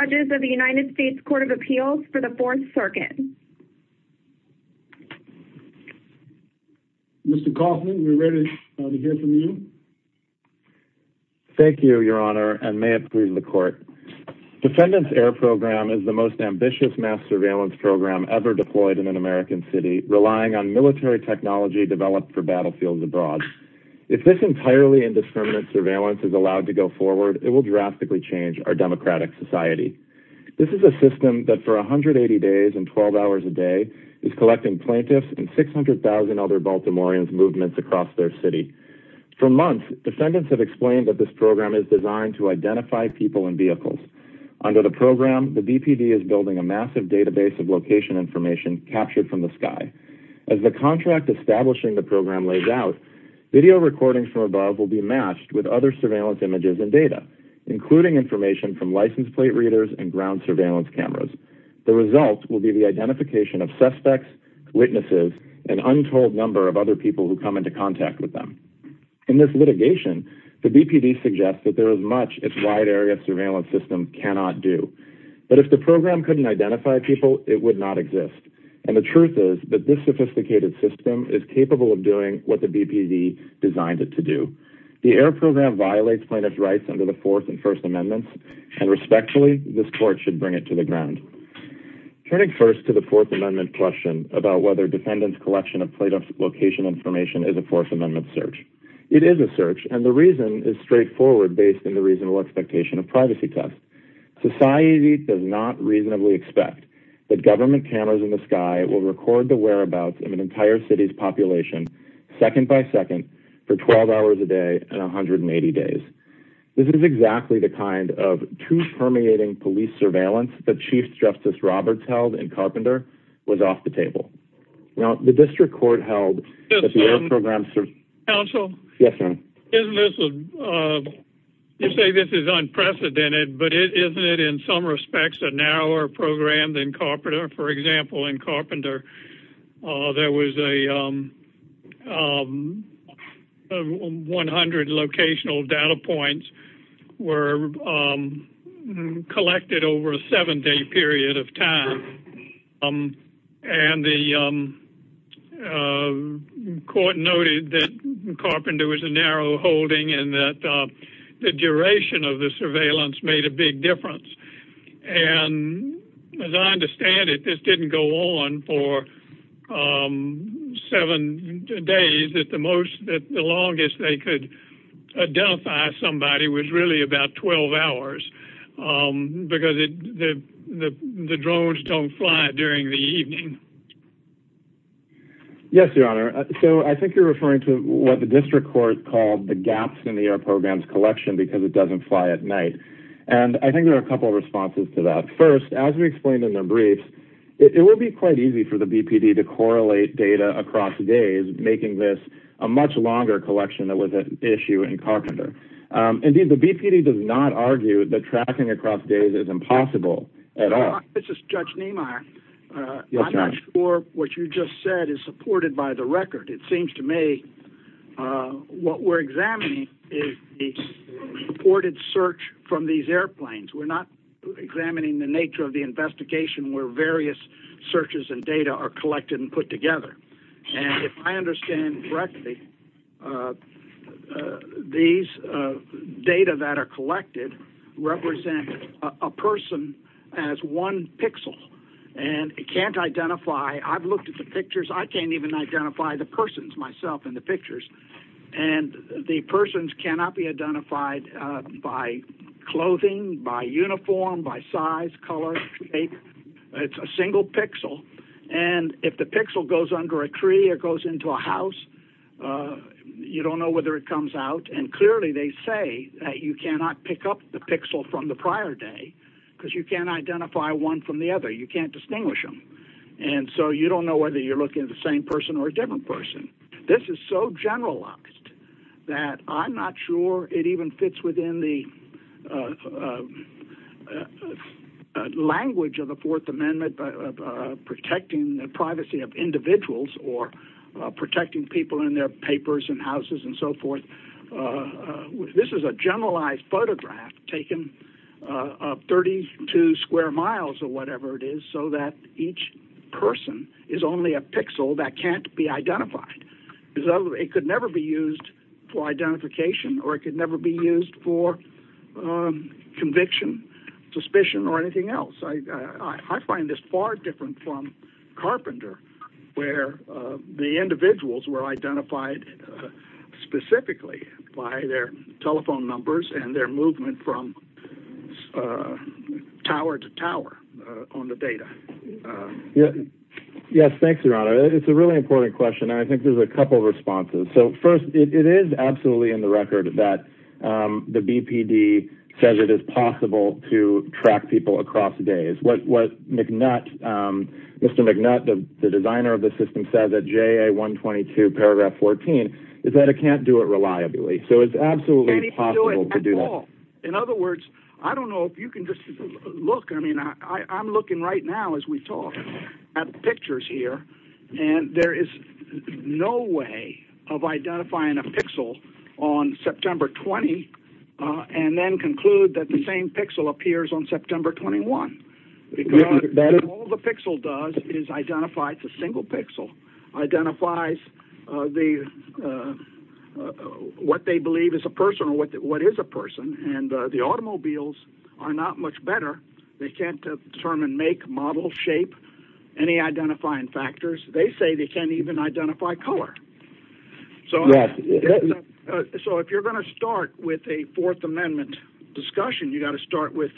Judges of the United States Court of Appeals for the 4th Circuit Mr. Kaufman, we're ready to hear from you Thank you, Your Honor, and may it please the Court Defendants Air Program is the most ambitious mass surveillance program ever deployed in an American city relying on military technology developed for battlefields abroad If this entirely indiscriminate surveillance is allowed to go forward, it will drastically change our democratic society This is a system that for 180 days and 12 hours a day is collecting plaintiffs and 600,000 other Baltimoreans' movements across their city For months, defendants have explained that this program is designed to identify people and vehicles Under the program, the DPD is building a massive database of location information captured from the sky As the contract establishing the program lays out, video recordings from above will be matched with other surveillance images and data including information from license plate readers and ground surveillance cameras The results will be the identification of suspects, witnesses, and untold number of other people who come into contact with them In this litigation, the DPD suggests that there is much its wide-area surveillance system cannot do But if the program couldn't identify people, it would not exist And the truth is that this sophisticated system is capable of doing what the DPD designed it to do The Air Program violates plaintiffs' rights under the Fourth and First Amendments And respectfully, this court should bring it to the ground Turning first to the Fourth Amendment question about whether defendants' collection of plaintiffs' location information is a Fourth Amendment search It is a search, and the reason is straightforward based on the reasonable expectation of privacy tests Society does not reasonably expect that government cameras in the sky will record the whereabouts of an entire city's population second-by-second for 12 hours a day and 180 days This is exactly the kind of truth-permeating police surveillance that Chief Justice Roberts held in Carpenter was off the table Now, the district court held that the Air Program... Yes, sir Counsel? Yes, sir Isn't this a... You say this is unprecedented, but isn't it in some respects a narrower program than Carpenter? For example, in Carpenter, there was a... 100 locational data points were collected over a seven-day period of time And the court noted that Carpenter was a narrow holding And that the duration of the surveillance made a big difference And as I understand it, this didn't go on for seven days That the longest they could identify somebody was really about 12 hours Because the drones don't fly during the evening Yes, your honor So I think you're referring to what the district court called the gaps in the Air Program's collection because it doesn't fly at night And I think there are a couple of responses to that First, as we explained in the brief, it will be quite easy for the BPD to correlate data across days Making this a much longer collection than was at issue in Carpenter Indeed, the BPD does not argue that tracking across days is impossible at all Your honor, this is Judge Niemeyer I'm not sure what you just said is supported by the record It seems to me what we're examining is a supported search from these airplanes We're not examining the nature of the investigation where various searches and data are collected and put together And if I understand correctly, these data that are collected represent a person as one pixel And it can't identify I've looked at the pictures I can't even identify the persons myself in the pictures And the persons cannot be identified by clothing, by uniform, by size, color, shape It's a single pixel And if the pixel goes under a tree or goes into a house, you don't know whether it comes out And clearly they say that you cannot pick up the pixel from the prior day Because you can't identify one from the other You can't distinguish them And so you don't know whether you're looking at the same person or a different person This is so generalized that I'm not sure it even fits within the language of the Fourth Amendment Protecting the privacy of individuals or protecting people in their papers and houses and so forth This is a generalized photograph taken 32 square miles or whatever it is So that each person is only a pixel that can't be identified It could never be used for identification or it could never be used for conviction, suspicion or anything else I find this far different from Carpenter Where the individuals were identified specifically by their telephone numbers And their movement from tower to tower on the data Yes, thanks, Your Honor It's a really important question and I think there's a couple of responses So first, it is absolutely in the record that the BPD says it is possible to track people across days What Mr. McNutt, the designer of the system, said in JA 122 paragraph 14 Is that it can't do it reliably So it's absolutely possible to do that In other words, I don't know if you can just look I mean, I'm looking right now as we talk at pictures here And there is no way of identifying a pixel on September 20 And then conclude that the same pixel appears on September 21 All the pixel does is identify the single pixel Identifies what they believe is a person or what is a person And the automobiles are not much better They can't determine make, model, shape, any identifying factors They say they can't even identify color So if you're going to start with a Fourth Amendment discussion You've got to start with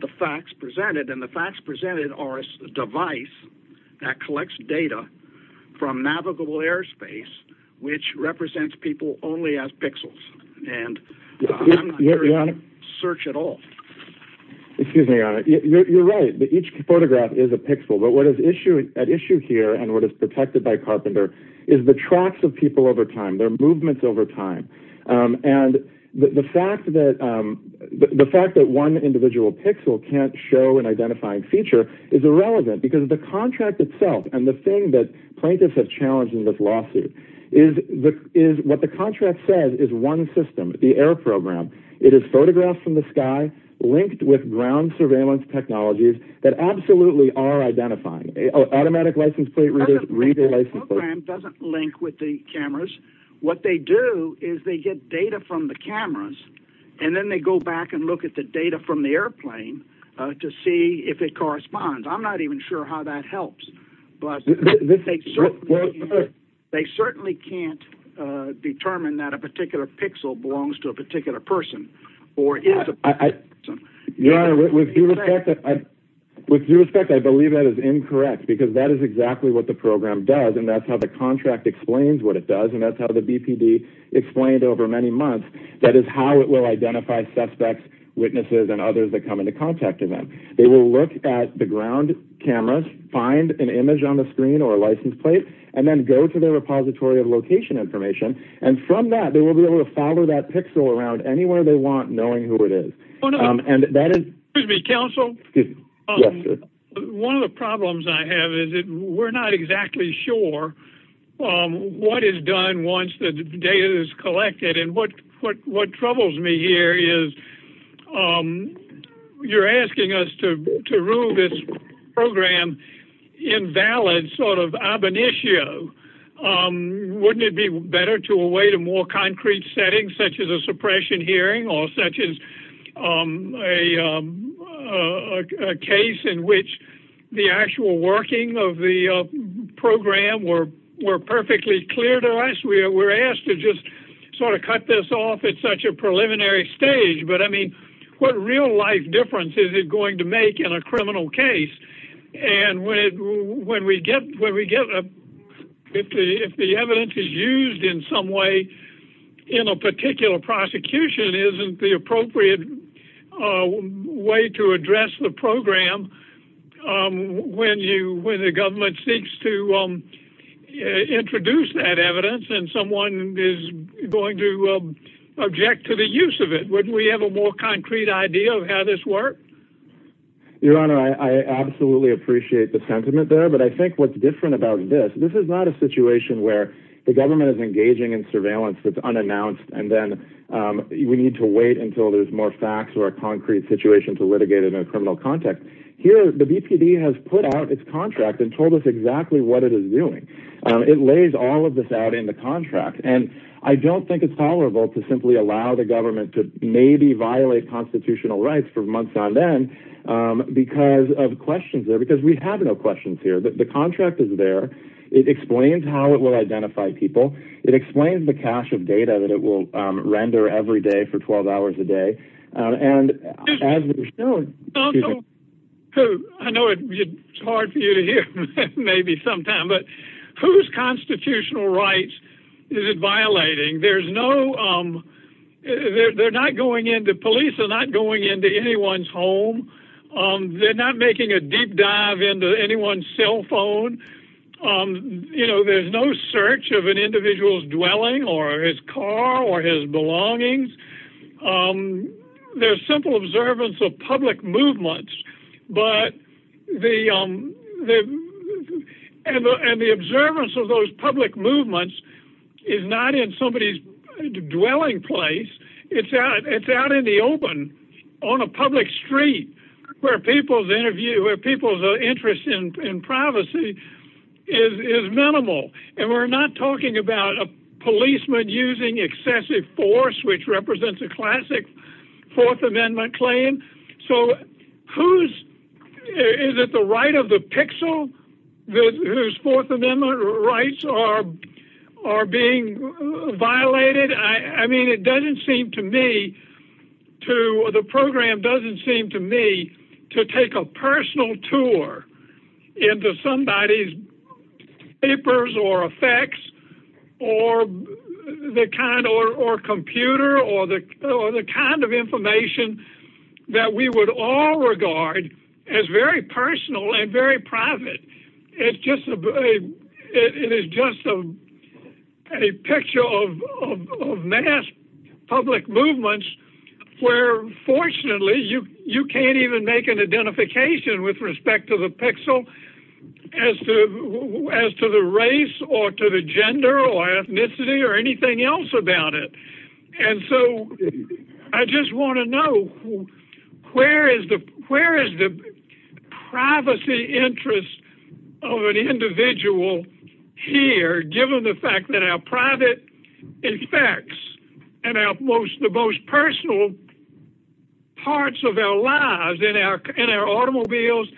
the facts presented And the facts presented are a device that collects data from navigable airspace Which represents people only as pixels And I'm not sure you can search at all You're right, each photograph is a pixel But what is at issue here and what is protected by Carpenter Is the tracks of people over time, their movements over time And the fact that one individual pixel can't show an identifying feature Is irrelevant because the contract itself And the thing that plaintiffs have challenged in this lawsuit Is what the contract says is one system, the air program It is photographed from the sky, linked with ground surveillance technologies That absolutely are identifying, automatic license plate readers The program doesn't link with the cameras What they do is they get data from the cameras And then they go back and look at the data from the airplane To see if it corresponds I'm not even sure how that helps They certainly can't determine that a particular pixel belongs to a particular person With due respect, I believe that is incorrect Because that is exactly what the program does And that's how the contract explains what it does And that's how the BPD explained over many months That is how it will identify suspects, witnesses and others that come into contact with them They will look at the ground cameras Find an image on the screen or a license plate And then go to their repository of location information And from that, they will be able to follow that pixel around Anywhere they want, knowing who it is Excuse me, counsel Yes, sir One of the problems I have is that we're not exactly sure What is done once the data is collected And what troubles me here is You're asking us to rule this program invalid Sort of ab initio Wouldn't it be better to await a more concrete setting Such as a suppression hearing Or such as a case in which the actual working of the program Were perfectly clear to us We're asked to just sort of cut this off at such a preliminary stage But I mean, what real life difference is it going to make in a criminal case And when we get If the evidence is used in some way In a particular prosecution Isn't the appropriate way to address the program When the government seeks to introduce that evidence And someone is going to object to the use of it Wouldn't we have a more concrete idea of how this works Your honor, I absolutely appreciate the sentiment there But I think what's different about this This is not a situation where the government is engaging in surveillance That's unannounced And then we need to wait until there's more facts Or a concrete situation to litigate it in a criminal context Here, the BPD has put out its contract And told us exactly what it is doing It lays all of this out in the contract And I don't think it's tolerable To simply allow the government to maybe violate constitutional rights For months on end Because of questions there Because we have no questions here The contract is there It explains how it will identify people It explains the cache of data that it will render every day For 12 hours a day And as we've shown I know it's hard for you to hear Maybe sometimes But whose constitutional rights is it violating There's no They're not going into Police are not going into anyone's home They're not making a deep dive into anyone's cell phone You know, there's no search of an individual's dwelling Or his car Or his belongings There's simple observance of public movements But the And the observance of those public movements Is not in somebody's dwelling place It's out in the open On a public street Where people's interview Where people's interest in privacy Is minimal And we're not talking about a policeman using excessive force Which represents a classic Fourth Amendment claim So who's Is it the right of the pixel Whose Fourth Amendment rights are being violated I mean, it doesn't seem to me To the program doesn't seem to me To take a personal tour Into somebody's papers or effects Or the kind or computer Or the kind of information That we would all regard As very personal and very private It's just It is just A picture of mass public movements Where fortunately you can't even make an identification With respect to the pixel As to the race or to the gender or ethnicity Or anything else about it And so I just want to know Where is the privacy interest Of an individual here Given the fact that our private effects And the most personal parts of our lives In our automobiles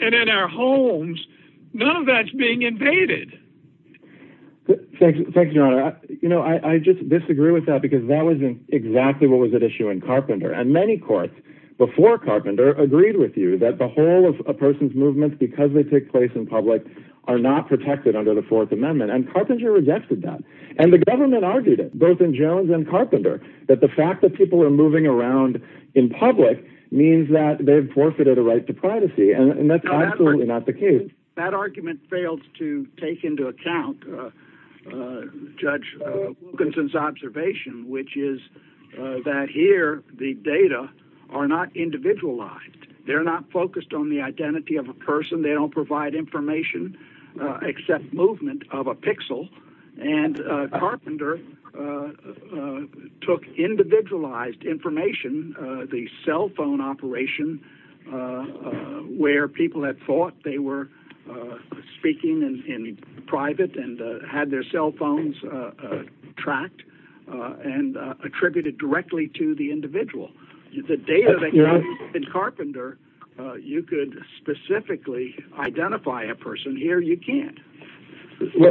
And in our homes None of that's being invaded Thank you, your honor I just disagree with that Because that wasn't exactly what was at issue in Carpenter And many courts before Carpenter Agreed with you that the whole of a person's movement Because they take place in public Are not protected under the Fourth Amendment And Carpenter rejected that And the government argued it Both in Jones and Carpenter That the fact that people are moving around in public Means that they've forfeited a right to privacy And that's absolutely not the case That argument fails to take into account Judge Wilkinson's observation Which is that here The data are not individualized They're not focused on the identity of a person They don't provide information Except movement of a pixel And Carpenter took individualized information The cell phone operation Where people had thought they were speaking in private And had their cell phones tracked And attributed directly to the individual The data that you have in Carpenter You could specifically identify a person Here you can't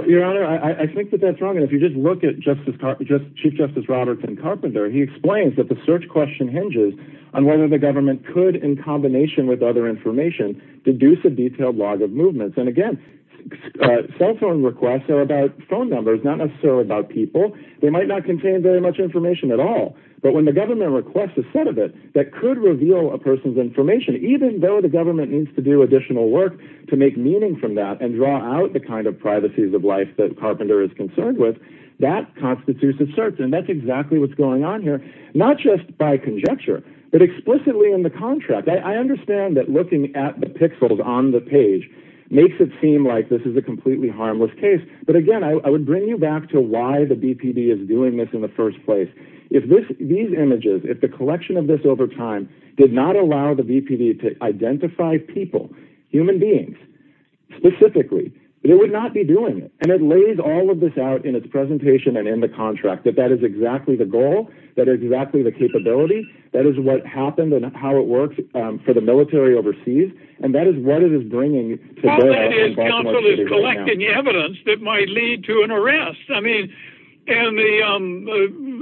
Your honor, I think that that's wrong And if you just look at Chief Justice Roberts in Carpenter He explains that the search question hinges On whether the government could In combination with other information Deduce a detailed log of movements And again, cell phone requests are about phone numbers Not necessarily about people They might not contain very much information at all But when the government requests a set of it That could reveal a person's information Even though the government needs to do additional work To make meaning from that And draw out the kind of privacy of life That Carpenter is concerned with That constitutes a search And that's exactly what's going on here Not just by conjecture But explicitly in the contract I understand that looking at the pixels on the page Makes it seem like this is a completely harmless case But again, I would bring you back to Why the BPD is doing this in the first place If these images If the collection of this over time Did not allow the BPD to identify people Human beings Specifically It would not be doing it And it lays all of this out in its presentation And in the contract That that is exactly the goal That is exactly the capability That is what happened and how it works For the military overseas And that is what it is bringing What it is, counsel, is collecting evidence That might lead to an arrest I mean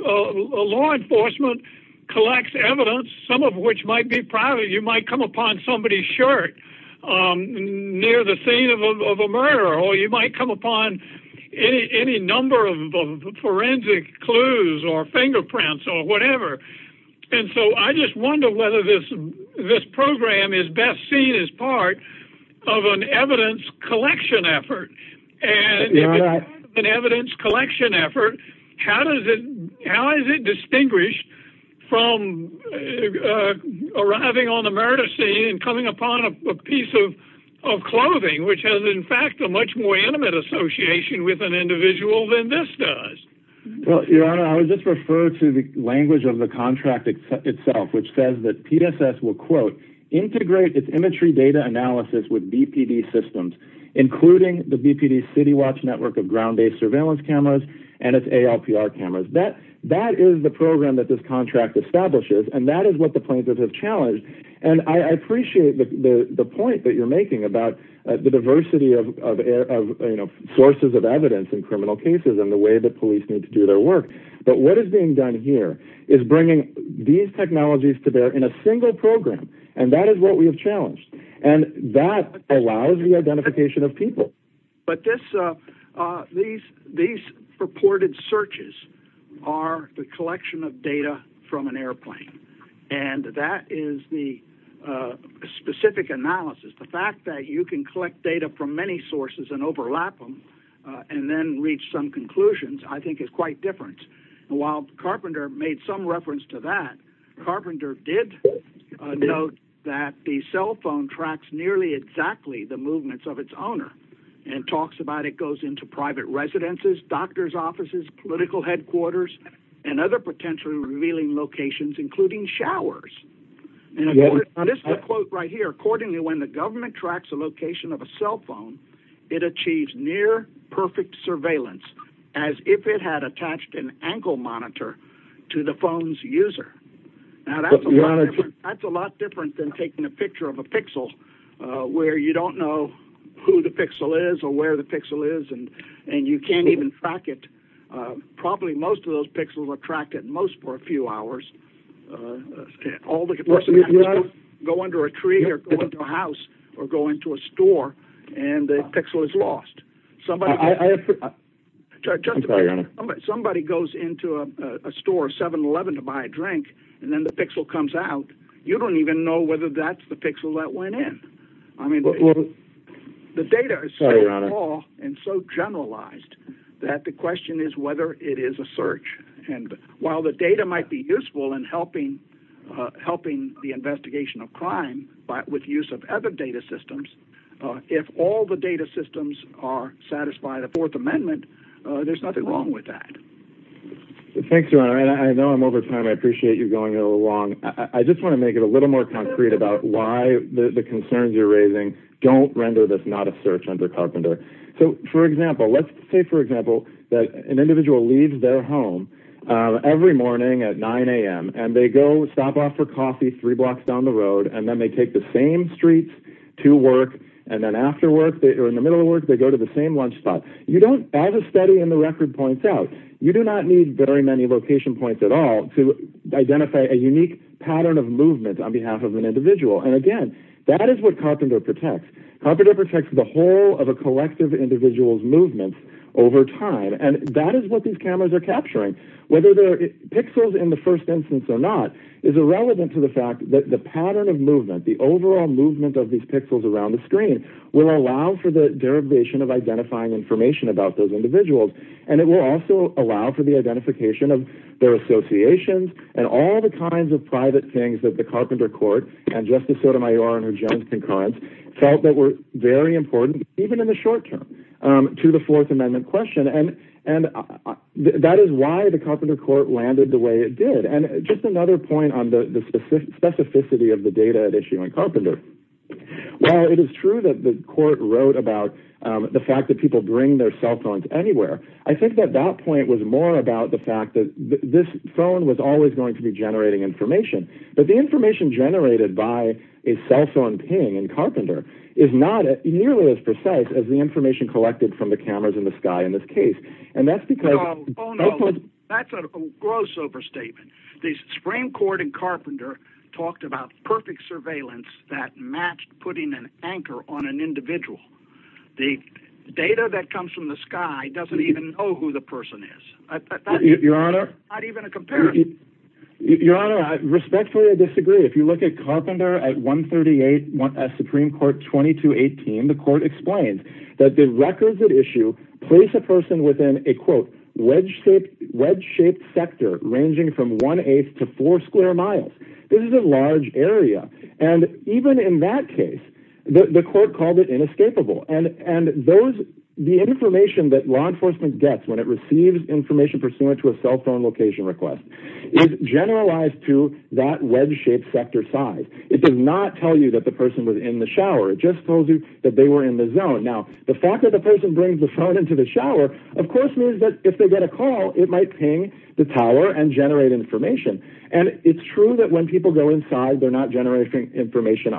Law enforcement Collects evidence Some of which might be private You might come upon somebody's shirt Near the scene of a murder Or you might come upon Any number of Forensic clues Or fingerprints or whatever And so I just wonder whether this Program is best seen as part Of an evidence Collection effort An evidence collection effort How does it How is it distinguished From Arriving on the murder scene And coming upon a piece of Clothing which has in fact a much more Intimate association with an individual Than this does Your honor, I would just refer to the Language of the contract itself Which says that PSS will Integrate its imagery data analysis With BPD systems Including the BPD city watch network Of ground-based surveillance cameras And its ALPR cameras That is the program that this contract Establishes and that is what the plaintiffs have challenged And I appreciate The point that you're making about The diversity of Sources of evidence in criminal cases And the way that police need to do their work But what is being done here Is bringing these technologies To bear in a single program And that is what we have challenged And that allows the identification Of people But these Purported searches Are the collection of data From an airplane And that is the Specific analysis The fact that you can collect data from many sources And overlap them And then reach some conclusions I think is quite different While Carpenter made some reference to that Carpenter did Note that the cell phone Tracks nearly exactly The movements of its owner And talks about it goes into private residences Doctors offices Political headquarters And other potentially revealing locations Including showers And this is a quote right here Accordingly when the government tracks the location of a cell phone It achieves near Perfect surveillance As if it had attached an ankle monitor To the phone's user That is a lot different Than taking a picture of a pixel Where you don't know Who the pixel is Or where the pixel is And you can't even track it Probably most of those pixels are tracked at most for a few hours All the Go under a tree Or go into a house Or go into a store And the pixel is lost Somebody Just a minute Somebody goes into a store 7-Eleven to buy a drink And then the pixel comes out You don't even know whether that's the pixel that went in I mean The data is so small And so generalized That the question is whether it is a search And while the data might be useful In helping The investigation of crime With the use of other data systems If all the data systems Are satisfied There's nothing wrong with that Thanks I know I'm over time I appreciate you going along I just want to make it a little more concrete About why the concerns you're raising Don't render this not a search under carpenter So for example Let's say for example That an individual leaves their home Every morning at 9am And they go stop off for coffee Three blocks down the road And then they take the same streets to work And then after work Or in the middle of work They go to the same lunch spot As a study in the record points out You do not need very many location points at all To identify a unique pattern of movement On behalf of an individual And again that is what carpenter protects Carpenter protects the whole Of a collective individual's movement Over time And that is what these cameras are capturing Whether they're pixels in the first instance Or not Is irrelevant to the fact that the pattern of movement The overall movement of these pixels Around the screen Will allow for the derivation of identifying information About those individuals And it will also allow for the identification Of their associations And all the kinds of private things That the carpenter court And Justice Sotomayor and her judge concurrence Felt that were very important Even in the short term To the fourth amendment question And that is why the carpenter court Landed the way it did And just another point on the specificity Of the data at issue in Carpenter While it is true that the court Wrote about the fact that people Bring their cell phones anywhere I think that that point was more about The fact that this phone Was always going to be generating information But the information generated by A cell phone ping in Carpenter Is not nearly as precise As the information collected from the cameras In the sky in this case And that's because That's a gross overstatement The Supreme Court in Carpenter Talked about perfect surveillance That matched putting an anchor On an individual The data that comes from the sky Doesn't even know who the person is Your honor Your honor I respectfully disagree If you look at Carpenter at 138 At Supreme Court 2218 The court explained That the records at issue Place a person within a Quote, wedge-shaped sector Ranging from one-eighth to four square miles This is a large area And even in that case The court called it inescapable And the information That law enforcement gets When it receives information Pursuant to a cell phone location request Is generalized to That wedge-shaped sector size It does not tell you that the person was in the shower It just tells you that they were in the zone Now, the fact that the person Brings the phone into the shower Of course means that if they get a call It might ping the tower and generate information And it's true that when people go inside They're not generating information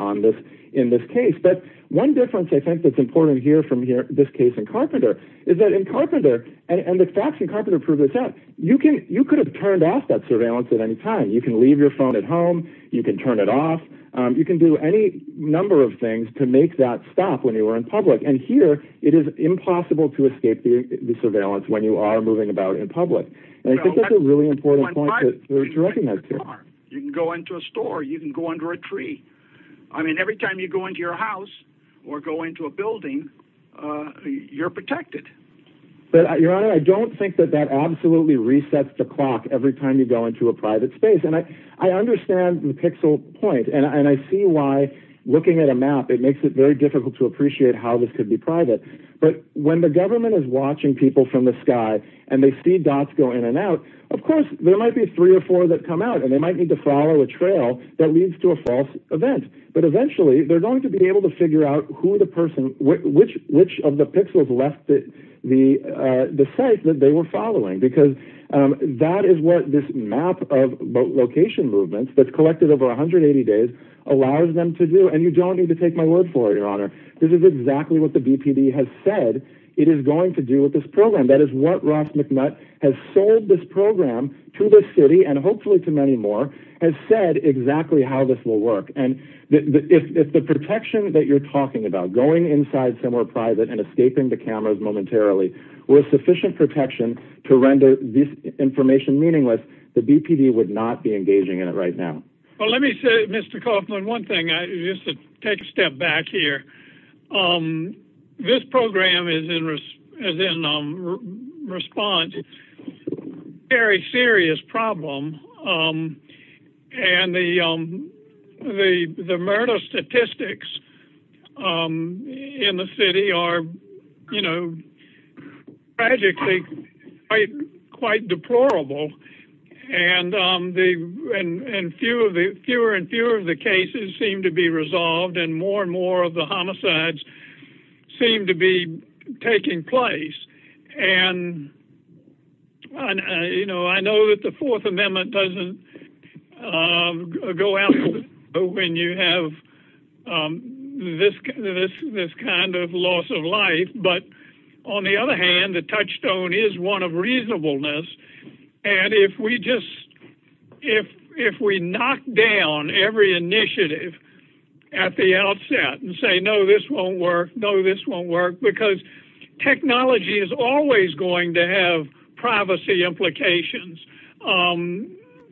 In this case But one difference I think that's important here From this case in Carpenter Is that in Carpenter And the facts in Carpenter prove this You could have turned off that surveillance At any time. You can leave your phone at home You can turn it off You can do any number of things To make that stop when you're in public And here, it is impossible to escape The surveillance when you are moving about In public And I think that's a really important point to recognize You can go into a store You can go under a tree I mean, every time you go into your house Or go into a building You're protected Your honor, I don't think that That absolutely resets the clock Every time you go into a private space And I understand the pixel point And I see why Looking at a map, it makes it very difficult To appreciate how this could be private But when the government is watching people From the sky, and they see dots go in and out Of course, there might be three or four That come out, and they might need to follow a trail That leads to a false event But eventually, they're going to be able to figure out Which of the pixels Left the site That they were following Because that is what this map Of location movements That's collected over 180 days Allows them to do And you don't need to take my word for it, your honor This is exactly what the DPD has said It is going to do with this program That is what Ross McNutt has sold this program To the city, and hopefully to many more Has said exactly how this will work And if the protection That you're talking about, going inside Somewhere private and escaping the cameras momentarily Were sufficient protection To render this information Meaningless, the DPD would not be Engaging in it right now Well, let me say, Mr. Kaufman, one thing Just to take a step back here This program Is in response To a very serious problem And the Murder statistics In the city Are, you know Tragically Quite deplorable And Fewer and fewer Of the cases seem to be resolved And more and more of the homicides Seem to be Taking place And You know, I know that the Fourth Amendment Doesn't Go out When you have This kind Of loss of life, but On the other hand, the touchstone Is one of reasonableness And if we just If we knock down Every initiative At the outset and say, no This won't work, no this won't work Because technology is Always going to have privacy Implications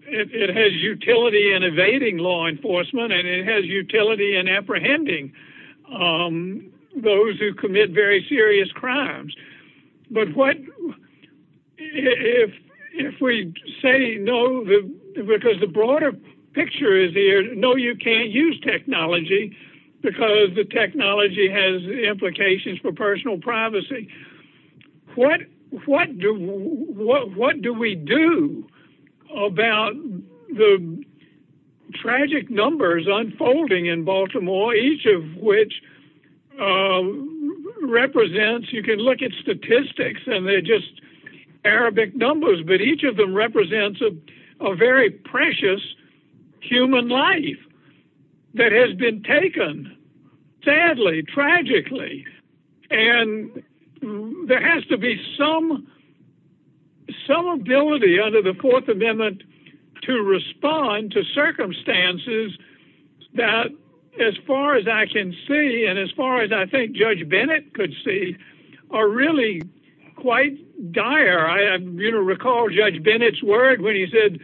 It has utility In evading law enforcement And it has utility in apprehending Those who Commit very serious crimes But what If We say no Because the broader picture is No, you can't use technology Because the technology Has implications for personal Privacy What do We do About The tragic Numbers unfolding in Baltimore Each of which Represents You can look at statistics And they're just Arabic numbers But each of them represents A very precious Human life That has been taken Sadly, tragically And There has to be Some Ability under the Fourth Amendment To respond to Circumstances That as far as I can See and as far as I think Judge Bennett could see Are really quite dire I recall Judge Bennett's word when he said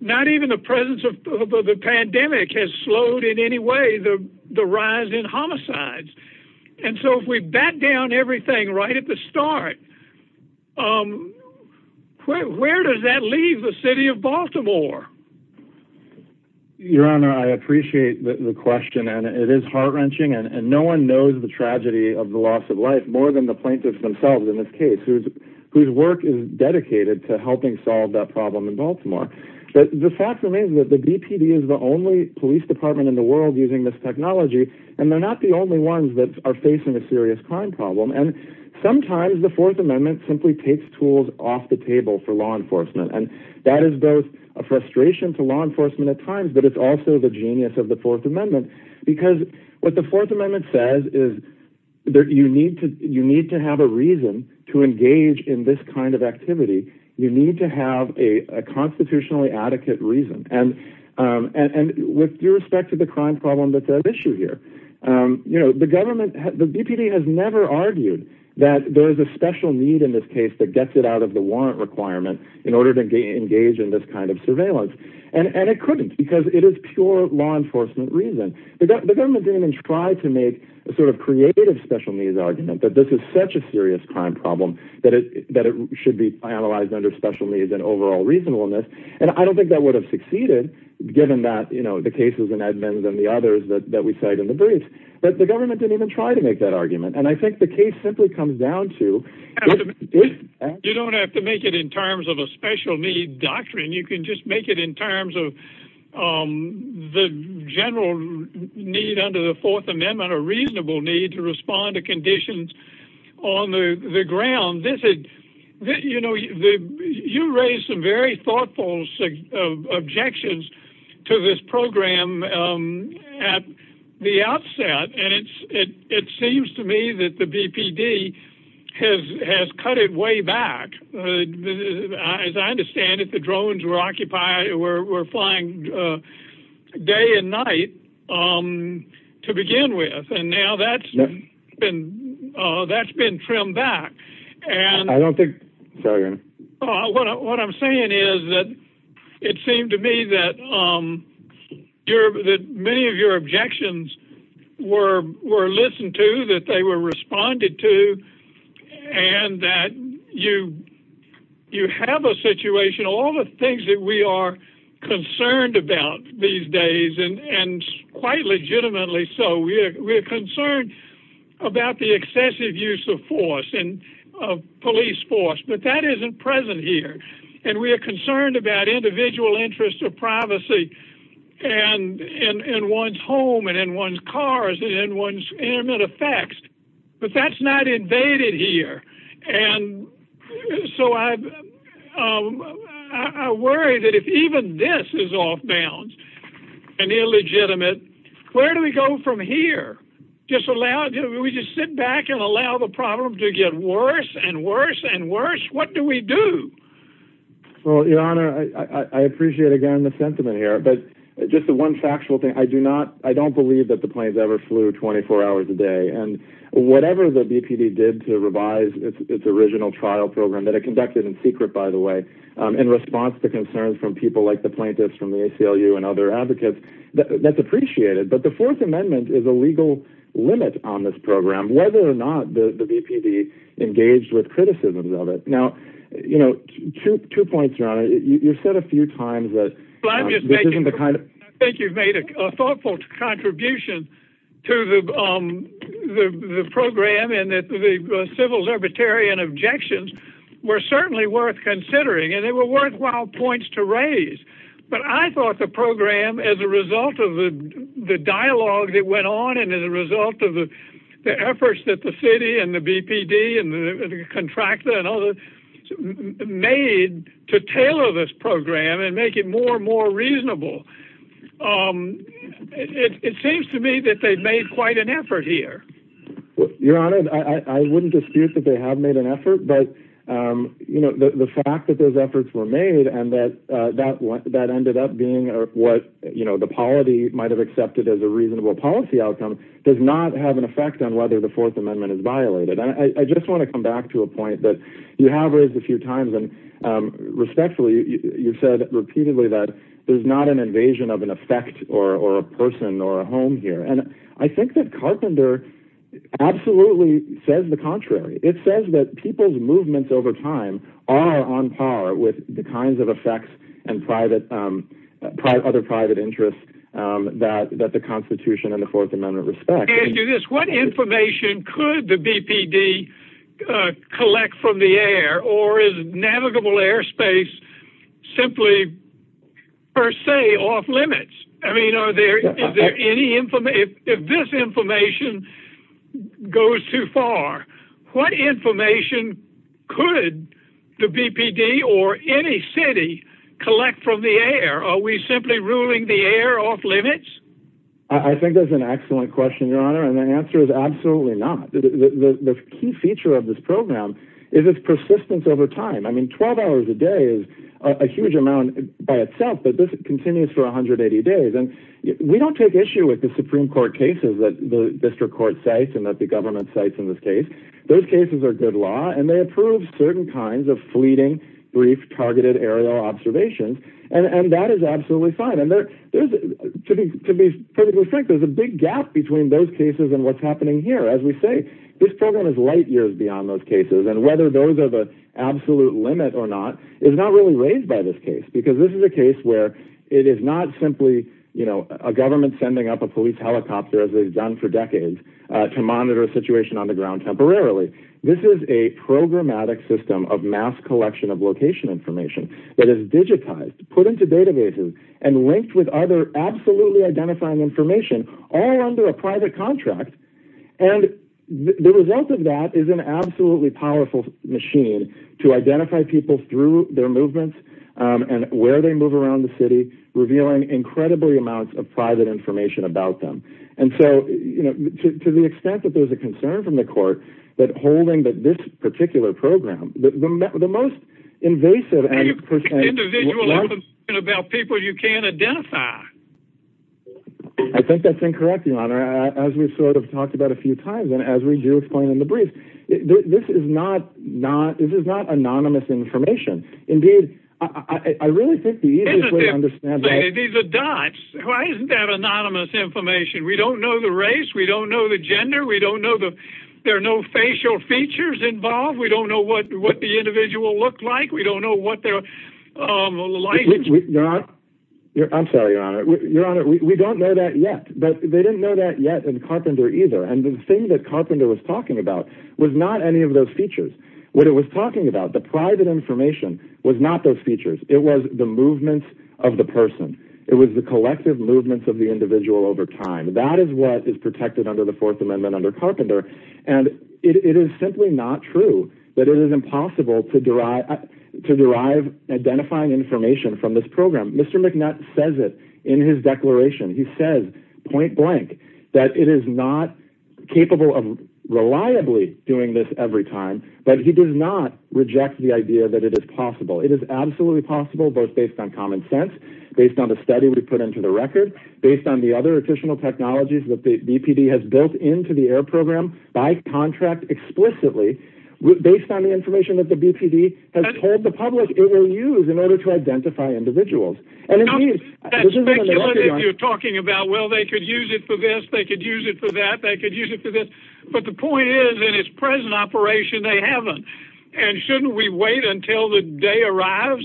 Not even the presence of the Pandemic has slowed in any way The rise in homicides And so if we Back down everything Right at the start Where does that leave The city of Baltimore Your honor I appreciate the question And it is heart-wrenching And no one knows the tragedy Of the loss of life More than the plaintiffs themselves In this case Whose work is dedicated To helping solve that problem In Baltimore But the fact remains that the BPD Is the only police department in the world Using this technology And they're not the only ones That are facing a serious crime problem And sometimes the Fourth Amendment Simply takes tools off the table For law enforcement And that is both a frustration To law enforcement at times But it's also the genius Of the Fourth Amendment Because what the Fourth Amendment Says is that you need To have a reason To engage in this kind of activity You need to have a Constitutionally adequate reason And with Respect to the crime problem that's at issue here You know the government The BPD has never argued That there is a special need in this case That gets it out of the warrant requirement In order to engage in this kind of surveillance And it couldn't Because it is pure law enforcement reason The government didn't even try to make A sort of creative special needs argument That this is such a serious crime problem That it should be Analyzed under special needs and overall reasonableness And I don't think that would have succeeded Given that, you know, the cases And the others that we cite in the brief But the government didn't even try to make that argument And I think the case simply comes down to You don't have to make it in terms of A special need doctrine You can just make it in terms of The general need Under the fourth amendment A reasonable need to respond to conditions On the ground You know You raised some very thoughtful Objections To this program At the outset And it seems to me That the BPD Has cut it way back As I understand If the drones were Flying Day and night To begin with And now that's been Trimmed back And I don't think What I'm saying is That it seems to me That Many of your objections Were listened to That they were responded to And that You have a situation In which All the things that we are Concerned about These days And quite legitimately so We are concerned About the excessive use of force Of police force But that isn't present here And we are concerned About individual interests Of privacy And one's home And one's cars And one's intimate effects But that's not invaded here And So I I worry that if even this Is off balance And illegitimate Where do we go from here? We just sit back and allow The problem to get worse And worse and worse What do we do? Well your honor I appreciate again The sentiment here But just one factual thing I don't believe that the planes ever flew 24 hours a day And whatever the BPD did to revise Its original trial program That it conducted in secret by the way In response to concerns from people like the plaintiffs From the ACLU and other advocates That's appreciated But the fourth amendment is a legal limit On this program Whether or not the BPD engaged with criticisms Of it Now two points your honor You've said a few times that Well I'm just making I think you've made a thoughtful contribution To the The program And that the civil libertarian objections Were certainly worth considering And they were worthwhile points to raise But I thought the program As a result of the Dialogue that went on And as a result of the Efforts that the city and the BPD And the contractor And others Made to tailor this program And make it more and more reasonable Um It seems to me that they've made Quite an effort here Your honor I wouldn't dispute that they have Made an effort but You know the fact that those efforts were made And that that Ended up being what you know The polity might have accepted as a reasonable Policy outcome does not have an effect On whether the fourth amendment is violated I just want to come back to a point That you have raised a few times Respectfully you've said Repeatedly that there's not an invasion Of an effect or a person Or a home here and I think that Carpenter absolutely Says the contrary It says that people's movements over time Are on par with the kinds Of effects and private Other private interests That the constitution And the fourth amendment respects What information Could the bpd Collect from the air Or is navigable airspace Simply Per se off limits I mean are there If this information Goes too far What information Could the bpd Or any city Collect from the air are we simply Ruling the air off limits I think that's an excellent Question your honor and the answer is absolutely Not the key feature Of this program is its persistence Over time I mean 12 hours a day Is a huge amount by Itself but this continues for 180 Days and we don't take issue with The supreme court cases that the district Court cites and that the government cites in this case Those cases are good law And they approve certain kinds of fleeting Brief targeted aerial observations And that is absolutely Fine and there is A big gap between Those cases and what's happening here as we Say this program is light years beyond Those cases and whether those are the Absolute limit or not is not Really raised by this case because this is a case Where it is not simply You know a government sending up a police Helicopter as they've done for decades To monitor a situation on the ground Temporarily this is a Programmatic system of mass collection Of location information that is digitized Put into databases and linked With other absolutely identifying Information all under a private Contract and The result of that is an absolutely Powerful machine to identify People through their movements And where they move around the city Revealing incredibly amounts Of private information about them And so to the extent That there is a concern from the court That holding this particular program The most invasive Individual About people you can't identify I think that's Incorrect your honor as we sort of Talked about a few times and as we do explain In the brief this is not Not this is not anonymous Information indeed I really think The dots That anonymous information we don't know The race we don't know the gender we don't Know that there are no facial features Involved we don't know what The individual looks like we don't know What their Language is Your honor we don't know that yet But they didn't know that yet in Carpenter either and the thing that Carpenter Was talking about was not any of those Features what it was talking about The private information was not those Features it was the movement Of the person it was the collective Movement of the individual over time That is what is protected under the fourth Amendment under Carpenter and It is simply not true That it is impossible to derive To derive identifying Information from this program Mr. McNutt says it in his declaration He says point blank That it is not capable Of reliably doing this Every time but he does not Reject the idea that it is possible It is absolutely possible both based on Common sense based on the study we put Into the record based on the other Additional technologies that the BPD has Built into the air program by Contract explicitly Based on the information that the BPD Has told the public it will use in Order to identify individuals And indeed You're talking about well they could use it For this they could use it for that they could Use it for this but the point is in Its present operation they haven't And shouldn't we wait until the Day arrives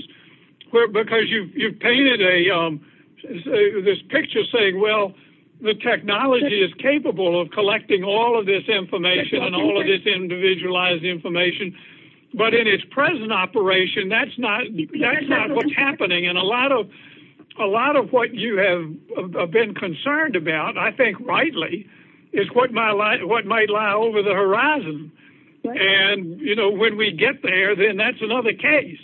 because You've painted a This picture saying well The technology is capable of Collecting all of this information All of this individualized information But in its present Operation that's not What's happening and a lot of A lot of what you have Been concerned about I think Rightly is what might Lie over the horizon And you know when we get There then that's another case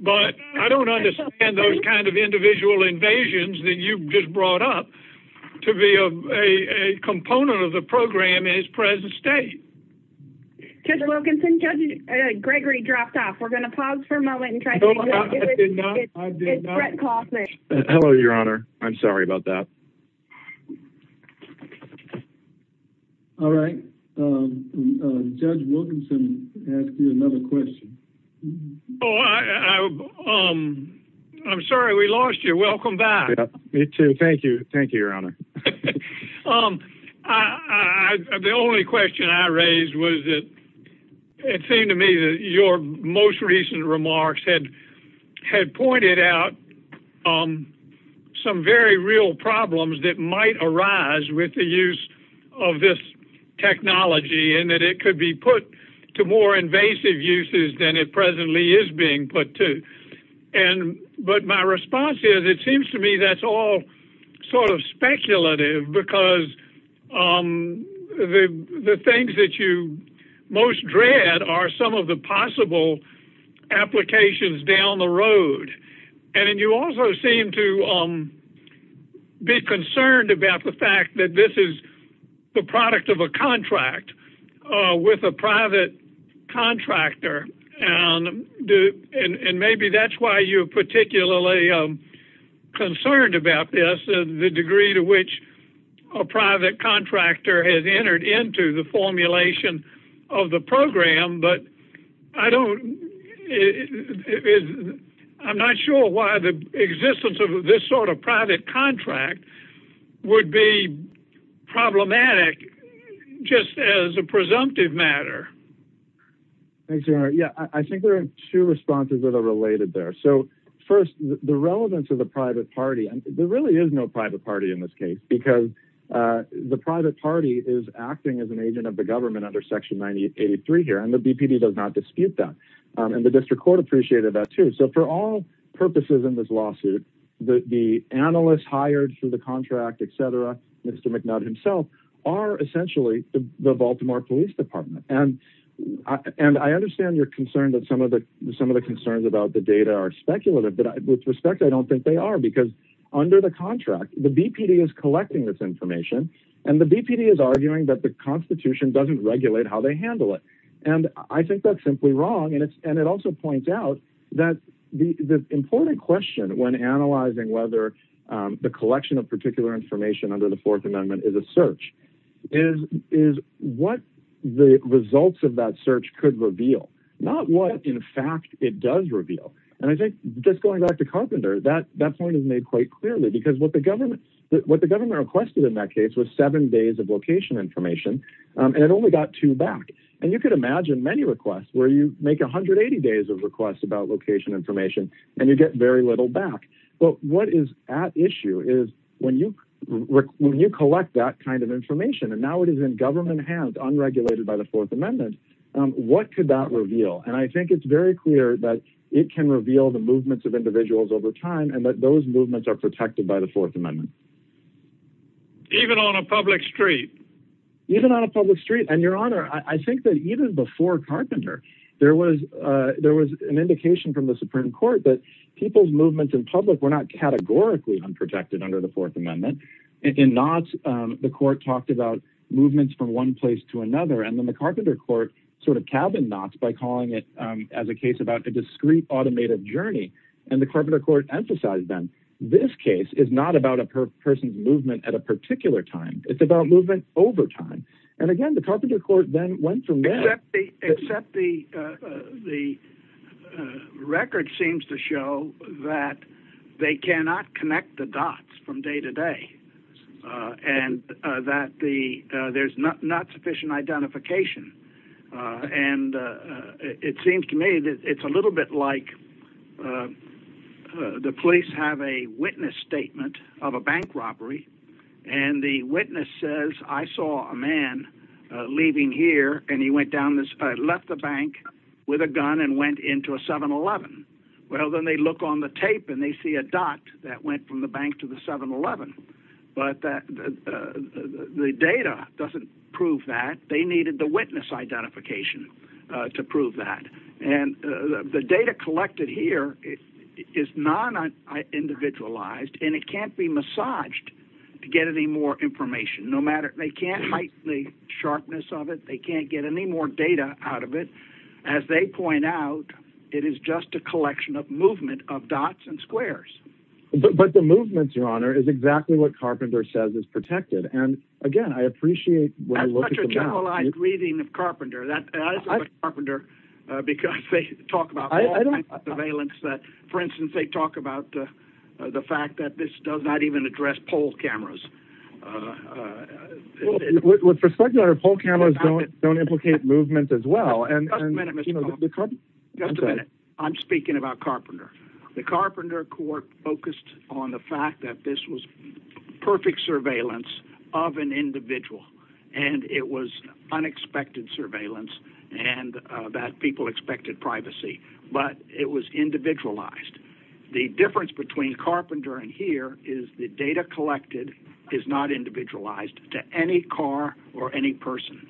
But I don't understand Those kind of individual invasions That you just brought up To be a component Of the program in its present state Judge Wilkinson Judge Gregory dropped off We're going to pause for a moment I did not Hello your honor I'm sorry about that All right Judge Wilkinson asked me Another question I'm sorry We lost you welcome back Thank you your honor The only question I raised Was that it seemed To me that your most recent Remarks had pointed Out Some very real problems That might arise with the use Of this technology And that it could be put To more invasive uses Than it presently is being put to And but my response Is it seems to me that's all Sort of speculative Because The things that you Most dread are some Of the possible Applications down the road And you also seem to Be concerned About the fact that this is The product of a contract With a private Contractor And maybe That's why you're particularly Concerned about This the degree to which A private contractor Has entered into the formulation Of the program But I don't I'm not Sure why the existence of This sort of private contract Would be Problematic Just as a presumptive matter Yeah I think there are two responses Related there so first The relevance of the private party There really is no private party in this case Because the private party Is acting as an agent of the government Under section 1983 here and the BPD does not dispute that And the district court appreciated that too so for all Purposes in this lawsuit The analyst hired For the contract etc. Mr. McNutt himself are essentially The baltimore police department And I understand Your concern that some of the concerns About the data are speculative But with respect I don't think they are because Under the contract the BPD is Collecting this information and the BPD is arguing that the constitution Doesn't regulate how they handle it And I think that's simply wrong And it also points out that The important question when Analyzing whether the collection Of particular information under the fourth Amendment is a search Is what the Results of that search could reveal Not what in fact it does Reveal and I think just going back To carpenter that point is made quite Clearly because what the government Requested in that case was seven days Of location information and it Only got two back and you can imagine Many requests where you make 180 Days of requests about location information And you get very little back But what is at issue is When you collect that Kind of information and now it is in government Hands unregulated by the fourth amendment What could that reveal And I think it's very clear that It can reveal the movements of individuals Over time and that those movements are protected By the fourth amendment Even on a public street Even on a public street and your Honor I think that even before Carpenter there was An indication from the supreme court that People's movements in public were not Categorically unprotected under the fourth Amendment and in knots The court talked about movements from One place to another and then the carpenter Court sort of cabin knots by calling It as a case about a discreet Automated journey and the carpenter Court emphasized then this case Is not about a person's movement At a particular time it's about movement Over time and again the carpenter Court then went to Except the Record seems to Show that they Cannot connect the dots from Day to day And that there's Not sufficient identification And It seems to me that it's a little bit Like The police have a witness Statement of a bank robbery And the witness says I saw a man Leaving here and he went down Left the bank with a gun And went into a 7-11 Well then they look on the tape and they see A dot that went from the bank to the 7-11 but The data Doesn't prove that they needed the Witness identification To prove that and The data collected here Is not Individualized and it can't be massaged To get any more information No matter they can't The sharpness of it they can't get any more Data out of it as they Point out it is just a Collection of movement of dots and Squares but the movement Your honor is exactly what carpenter Says is protected and again I Appreciate Carpenter Carpenter because they Talk about surveillance that For instance they talk about The fact that this does not even address Pole cameras With And I'm speaking about Carpenter the carpenter Court focused on the fact that This was perfect surveillance Of an individual And it was unexpected Surveillance and That people expected privacy But it was individualized The difference between carpenter And here is the data collected Is not individualized To any car or any person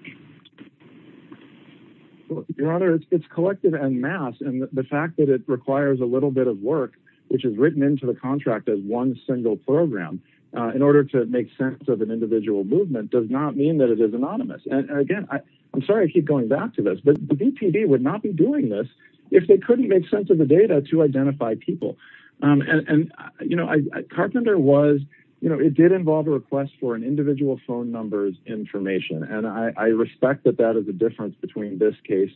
Your honor It is collected en masse and the fact That it requires a little bit of work Which is written into the contract of One single program in order to Make sense of an individual movement Does not mean that it is anonymous And again I'm sorry I keep going back to this But the bpb would not be doing this If they couldn't make sense of the data To identify people And you know carpenter was You know it did involve a request For an individual phone numbers Information and I respect That that is a difference between this case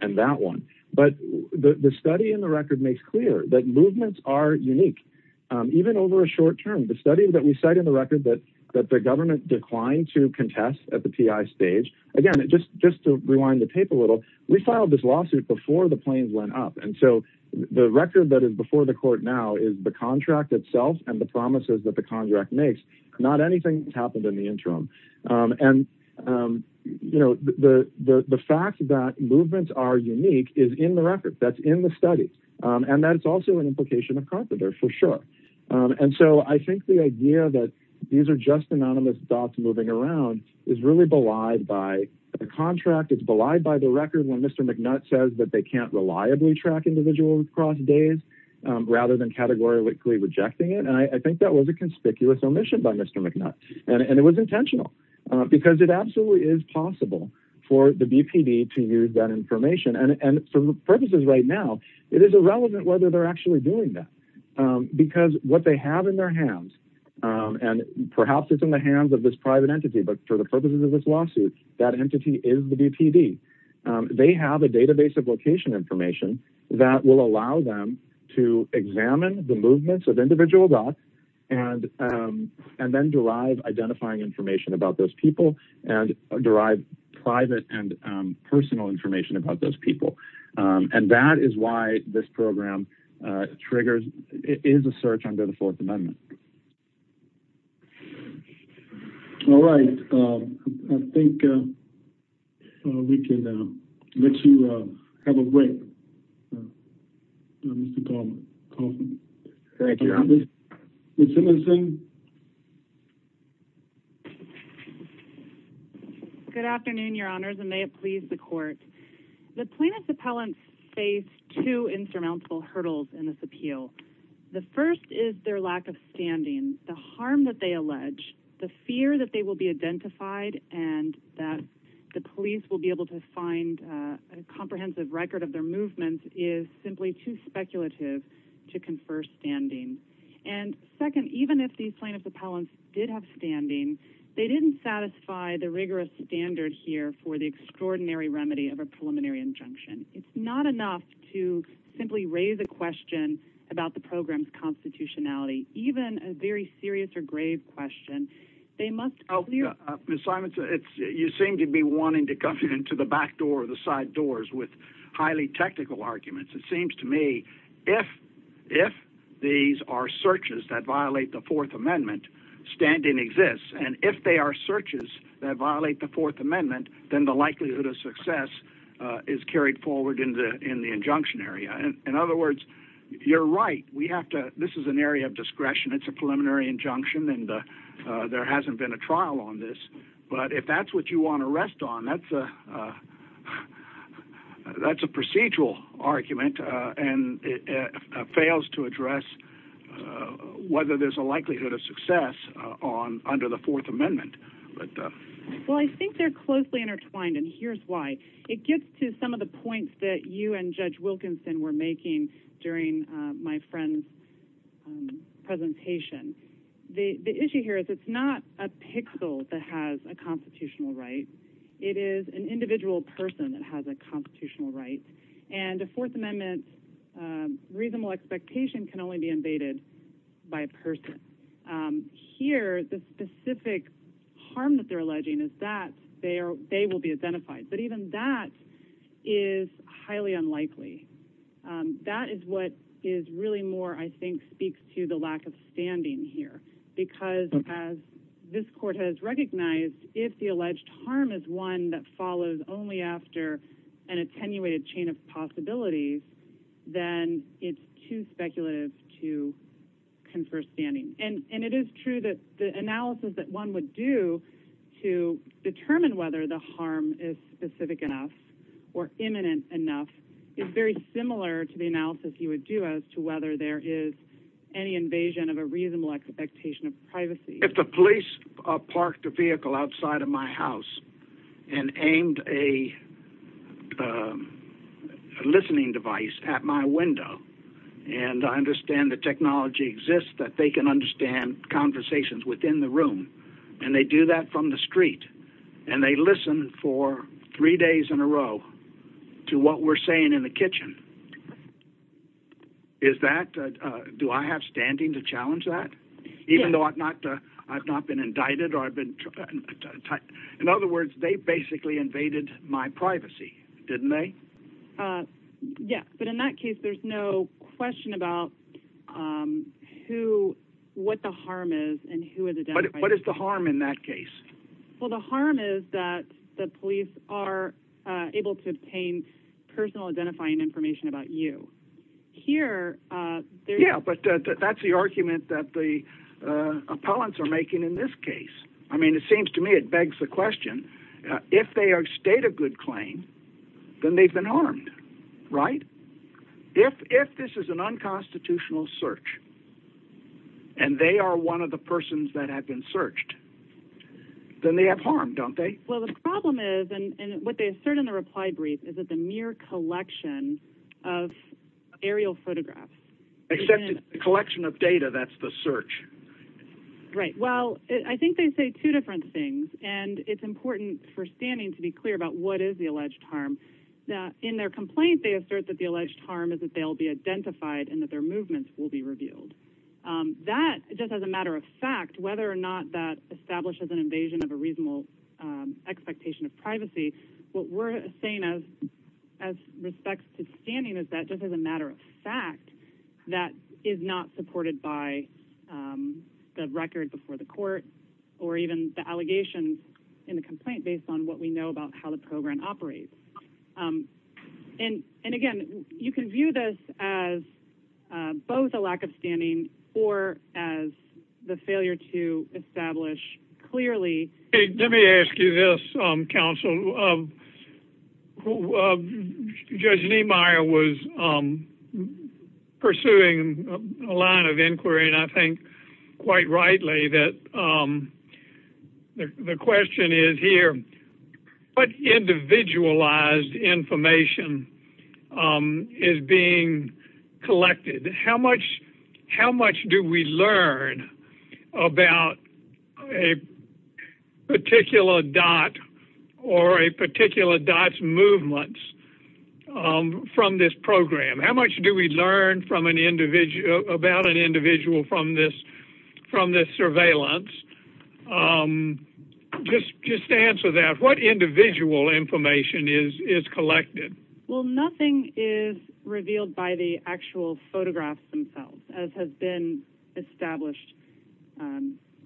And that one but The study in the record makes clear That movements are unique Even over a short term the study that we Said in the record that the government Declined to contest at the Stage again it just just to rewind The tape a little we filed this lawsuit Before the planes went up and so The record that is before the court now Is the contract itself and the promises That the contract makes not anything Happened in the interim and You know the The fact that movements are Unique is in the record that's in the Study and that's also an implication Of carpenter for sure and So I think the idea that These are just anonymous stuff moving Around is really belied by The contract is belied by the record When mr. McNutt says that they can't Reliably track individuals across days Rather than categorically Rejecting it and I think that was a And it was intentional because It absolutely is possible for The bpb to use that information And for purposes right now It is irrelevant whether they're actually Doing that because what they Have in their hands and Perhaps it's in the hands of this private Entity but for the purposes of this lawsuit That entity is the bpb They have a database of location Information that will allow them To examine the movements Of individual dots and And then derive identifying Information about those people and Derive private and Personal information about those people And that is why This program triggers It is a search under the 4th amendment All right I think We can Let you have a Wait Thank you Thank you Good afternoon your honors And may it please the court The plaintiff's appellant Faced two insurmountable hurdles In this appeal The first is their lack of standing The harm that they allege The fear that they will be identified And that the police will be able To find a comprehensive record Of their movements is simply Too speculative to confer Standing and second Even if the plaintiff's appellant did Have standing they didn't satisfy The rigorous standard here For the extraordinary remedy of a preliminary Injunction it's not enough To simply raise a question About the program's constitutionality Even a very serious Or grave question They must You seem to be wanting to come Into the back door or the side doors with These highly technical arguments It seems to me If these are searches That violate the fourth amendment Standing exists and if they are searches That violate the fourth amendment Then the likelihood of success Is carried forward in the Injunction area in other words You're right we have to This is an area of discretion It's a preliminary injunction And there hasn't been a trial on this But if that's what you want to rest on That's a That's a procedural Argument and it Fails to address Whether there's a likelihood of success On under the fourth amendment But I think they're closely intertwined and here's why It gets to some of the points That you and judge wilkinson were making During my friend's Presentation The issue here is It's not a pixel that has A constitutional right It is an individual person that has A constitutional right and the Fourth amendment Reasonable expectation can only be invaded By a person Here the specific Harm that they're alleging is that They will be identified But even that is Highly unlikely That is what is really more I think speaks to the lack of Standing here because As this court has recognized If the alleged harm is one That follows only after An attenuated chain of possibility Then It's too speculative to Confer standing and It is true that the analysis that one Would do to Determine whether the harm is specific Enough or imminent Enough is very similar to The analysis you would do as to whether there Is any invasion of a If the police parked a vehicle Outside of my house And aimed a Listening device at my window And I understand the technology Exists that they can understand Conversations within the room And they do that from the street And they listen for Three days in a row To what we're saying in the kitchen Is that Do I have standing to challenge That even though I've not been indicted In other words They basically invaded my privacy Didn't they In that case there is no Question about Who What the harm is What is the harm in that case The harm is that the police Are able to obtain Personal identifying information about you Here Yeah but That's the argument that the Appellants are making in this case I mean it seems to me it begs the question If they are state a good claim Then they've been harmed Right If this is an unconstitutional Search And they are one of the persons that have been Searched Then they have harm don't they Well the problem is and what they assert in the reply brief Is that the mere collection Of aerial photographs Except the collection of data That's the search Right well I think they say Two different things and it's important For standing to be clear about what is The alleged harm In their complaint they assert that the alleged harm Is that they'll be identified and that their movements Will be revealed That just as a matter of fact Whether or not that establishes an invasion Of a reasonable expectation Of privacy what we're saying As respects to Standing is that just as a matter of fact That is not supported By The record before the court Or even the allegation In the complaint based on what we know about how the program Operates And again you can view This as Both a lack of standing or As the failure to Establish clearly Let me ask you this Counsel Judge Niemeyer was Pursuing A line of inquiry and I think Quite rightly that The question Is here What individualized Information Is being collected How much Do we learn About A Particular dot Or a particular dot's Movements From this program how much do we Learn from an individual About an individual from this From this surveillance Just Answer that what individual Information is collected Well nothing is Revealed by the actual photographs Themselves as has been Established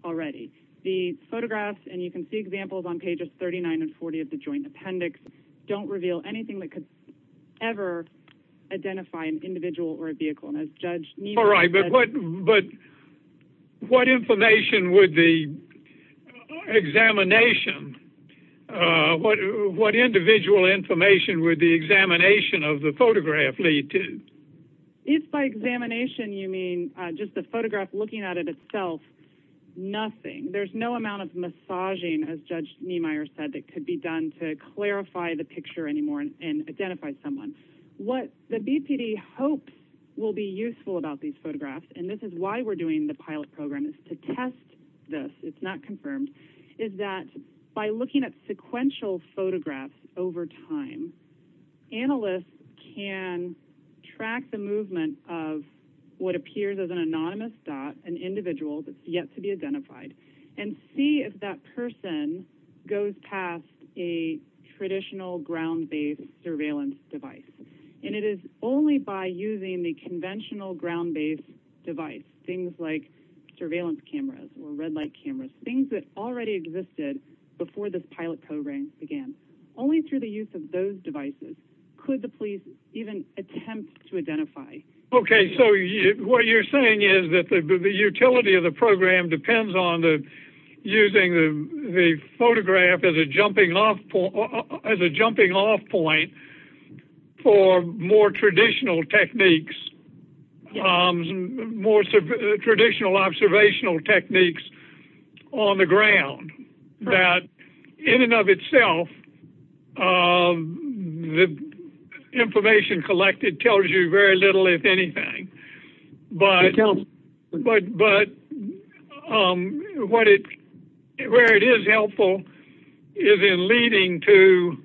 Already the photographs And you can see examples on pages 39 and 40 of the joint appendix Don't reveal anything that could Ever identify an Individual or a vehicle and as judge All right but What information would the Examination What individual information Would the examination of the photograph Lead to If by examination you mean Just the photograph looking at it itself Nothing there's no Amount of massaging as judge Niemeyer said that could be done to Clarify the picture anymore and Identify someone what the BPD hopes will be useful About these photographs and this is why We're doing the pilot program is to test This it's not confirmed Is that by looking at sequential Photographs over time Analysts Can track the movement Of what appears as An anonymous dot an individual Yet to be identified and See if that person Goes past a Traditional ground-based surveillance Device and it is Only by using the conventional Ground-based device things Like surveillance cameras Or red light cameras things that already Existed before the pilot Program began only through the use Of those devices could the police Even attempt to identify Okay so what you're Saying is that the utility of The program depends on Using the photograph As a jumping off Point For more Traditional techniques More Traditional observational techniques On the ground That in and of Itself The Information collected tells you Very little if anything But But What it where it is Helpful is in Leading to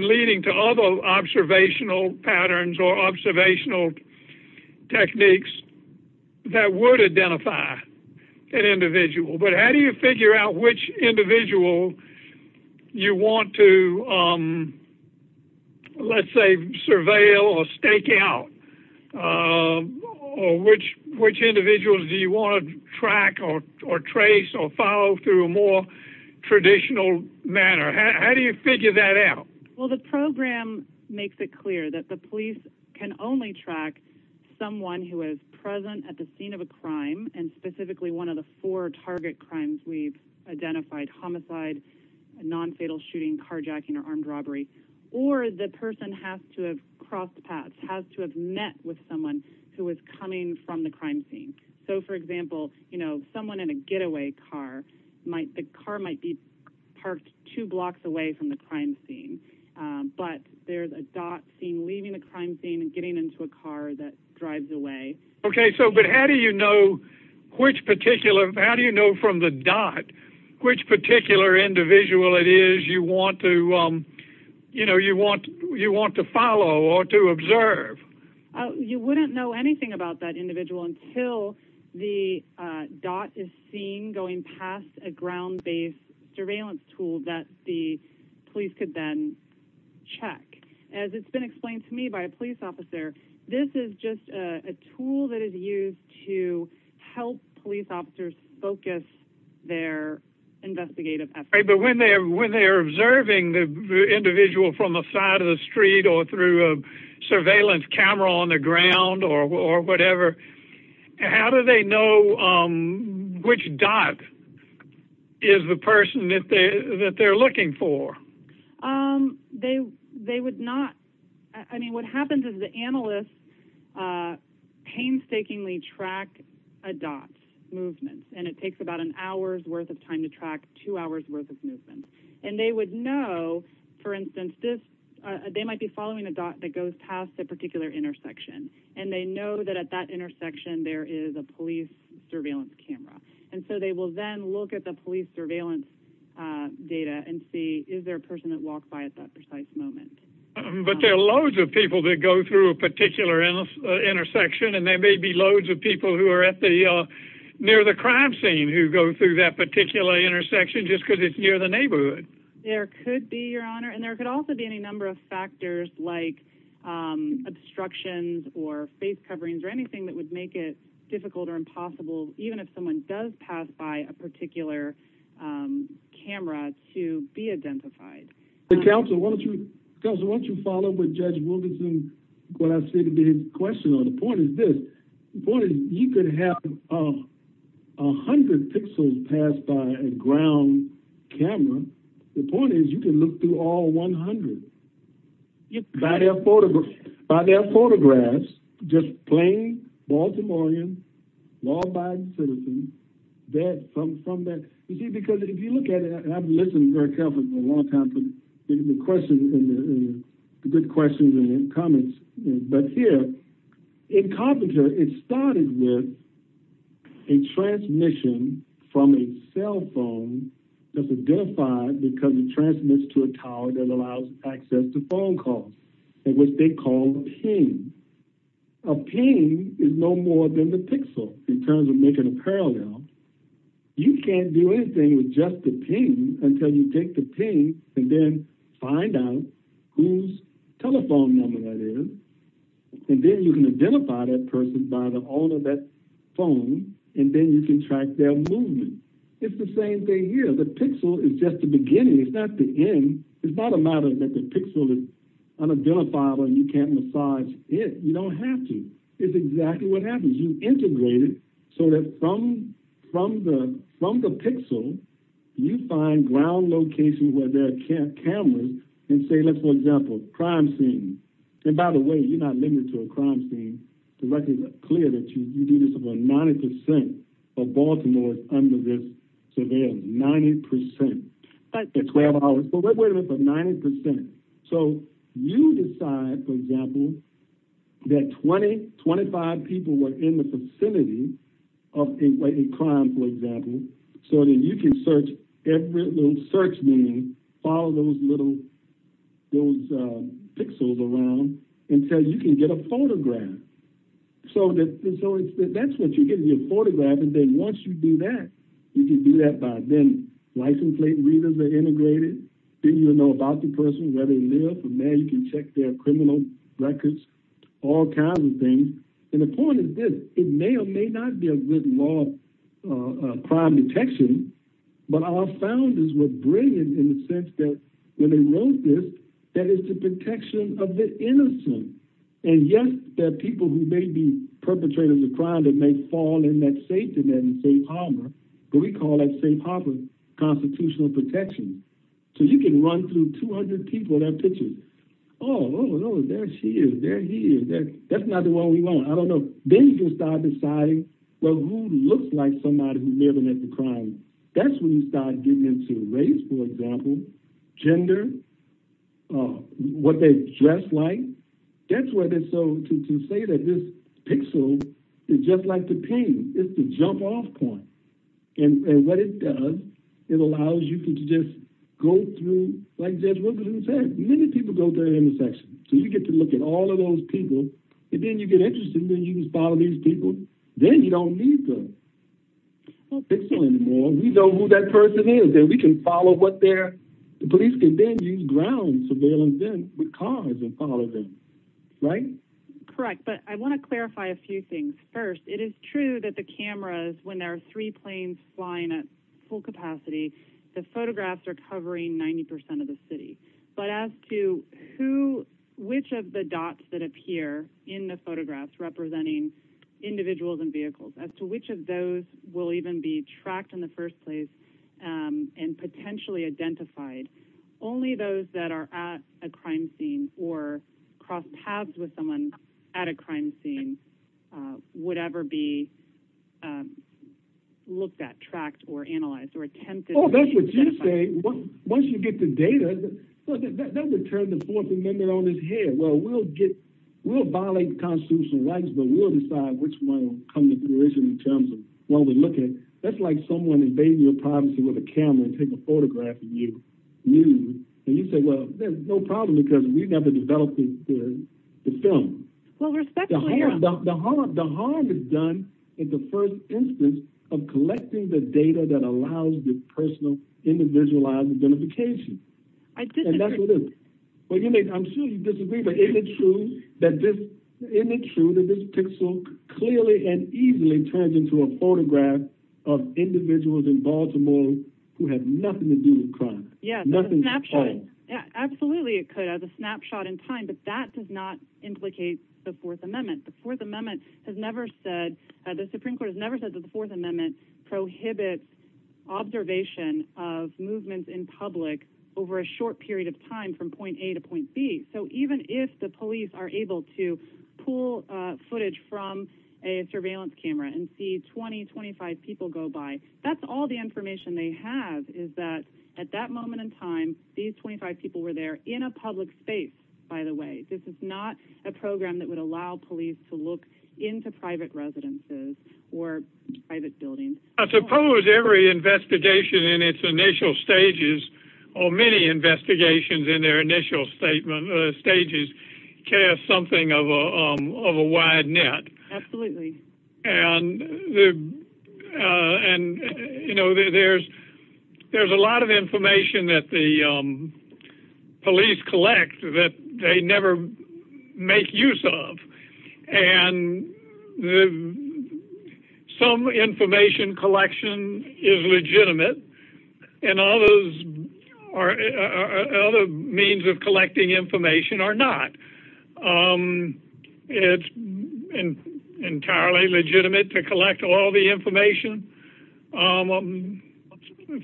Leading To Other observational patterns Or observational Techniques that Would identify An individual but how do you figure Out which individual You want to Let's Say surveil or stake Out Or which individuals Do you want to track or trace Or follow through a more Traditional manner how Do you figure that out well the Program makes it clear that The police can only track Someone who is present at the scene Of a crime and specifically one of The four target crimes we've Identified homicide Nonfatal shooting carjacking or armed Robbery or the person has To have crossed paths has to have Met with someone who was coming From the crime scene so for example You know someone in a getaway Car might the car might be Parked two blocks away from The crime scene but There's a dot seen leaving the crime Scene and getting into a car that Drives away okay so but how do You know which particular How do you know from the dot Which particular individual It is you want to You know you want you want to Follow or to observe You wouldn't know anything about That individual until the Dot is seen going Past a ground-based Surveillance tool that the Police could then check As it's been explained to me by a police Officer this is just a Tool that is used to Help police officers Focus their Investigative effort but when they're Observing the individual From the side of the street or through A surveillance camera on the Ground or whatever How do they know Which dot Is the person that They're looking for They would Not i mean what happens Is the analyst Painstakingly track A dot movement and it Takes about an hour's worth of time to track Two hours worth of movement and They would know for instance This they might be following a dot That goes past a particular intersection And they know that at that intersection There is a police surveillance Camera and so they will then look At the police surveillance Data and see Is there a person that walks by at that precise Moment but there are loads of People that go through a particular Intersection and there may be loads Of people who are at the Near the crime scene who go through that Particular intersection just because it's near The neighborhood there could be Your honor and there could also be any number of factors Like Obstructions or face coverings Or anything that would make it difficult Or impossible even if someone does Pass by a particular Camera to Be identified Counselor why don't you follow up with Judge Wilkinson The point is this You could have A hundred pixels Passed by a ground Camera the point is you can Look through all 100 By their photographs By their photographs Just plain baltimorean Law-abiding citizens Dead Because if you look at it I haven't listened very carefully in a long time The questions Good questions and comments But here In Carpenter it started with A transmission From a cell phone That's identified because it transmits To a tower that allows access To phone calls In which they call a ping A ping Is no more than a pixel In terms of making a parallel You can't do anything with just the ping Until you take the ping And then find out Whose telephone number that is And then you can identify That person by the owner of that Phone and then you can Track their movement It's the same thing here the pixel is just the beginning It's not the end It's not a matter that the pixel is Unidentifiable and you can't You don't have to It's exactly what happens You integrate it so that From the pixel You find ground locations Where there are cameras And say for example Crime scene and by the way You're not limited to a crime scene It's clear that you do this About 90% of baltimore Is under this 90% So You decide for example That 20 25 people were in the vicinity Of a crime for example So that you can search Every little search Follow those little Those pixels around Until you can get a photograph So That's what you get in your photograph And then once you do that You can do that by then License plate readers are integrated Then you'll know about the person Where they live and now you can check their criminal Records All kinds of things And the point is this It may or may not be a written law Crime detection But our founders were brilliant in the sense that When they wrote this That it's the protection of the innocent And yes there are people Who may be perpetrators of crime That may fall in that safe But we call that safe harbor Constitutional protection So you can run through 200 people That picture Oh there she is there he is That's not the one we want I don't know Then you can start deciding Who looks like somebody who may have been at the crime That's when you start getting into race for example Gender What they dress like That's where To say that this pixel Is just like the pain It's the jump off point And what it does It allows you to just go through Like Judge Wilkinson said Many people go through intersections So you get to look at all of those people And then you get interested Then you can follow these people Then you don't need the pixel anymore We know who that person is Then we can follow what they're The police can then use ground surveillance With cars and follow them Right? Correct but I want to clarify a few things First it is true that the cameras When there are three planes flying at full capacity The photographs are covering 90% of the city But as to who Which of the dots that appear In the photographs representing Individuals and vehicles As to which of those will even be Tracked in the first place And potentially identified Only those that are at A crime scene or Cross paths with someone At a crime scene Would ever be Looked at, tracked or analyzed Or attempted Oh that's what you say Once you get the data That would turn the fourth amendment on its head We'll violate the constitutional rights But we'll decide which one will come to fruition In terms of what we're looking at That's like someone invading your privacy With a camera and taking a photograph of you And you say well there's no problem Because we've got the developing theory It's done The harm is done In the first instance Of collecting the data that allows This personal individualized identification And that's what it is I'm sure you disagree But isn't it true That this pixel Clearly and easily turns into A photograph of individuals In Baltimore who have Nothing to do with crime Absolutely it could As a snapshot in time But that does not implicate the fourth amendment The fourth amendment has never said The supreme court has never said that the fourth amendment Prohibits observation Of movements in public Over a short period of time From point A to point B So even if the police are able to Pull footage from A surveillance camera And see 20-25 people go by That's all the information they have Is that at that moment in time These 25 people were there In a public space by the way This is not a program that would allow police To look into private residences Or private buildings I suppose every investigation In its initial stages Or many investigations In their initial stages Cast something of a Wide net Absolutely And You know There's a lot of Information that the Police collect That they never make Use of And Some information Collection is legitimate And others Are Other means of collecting information Are not It's Entirely Legitimate to collect all the information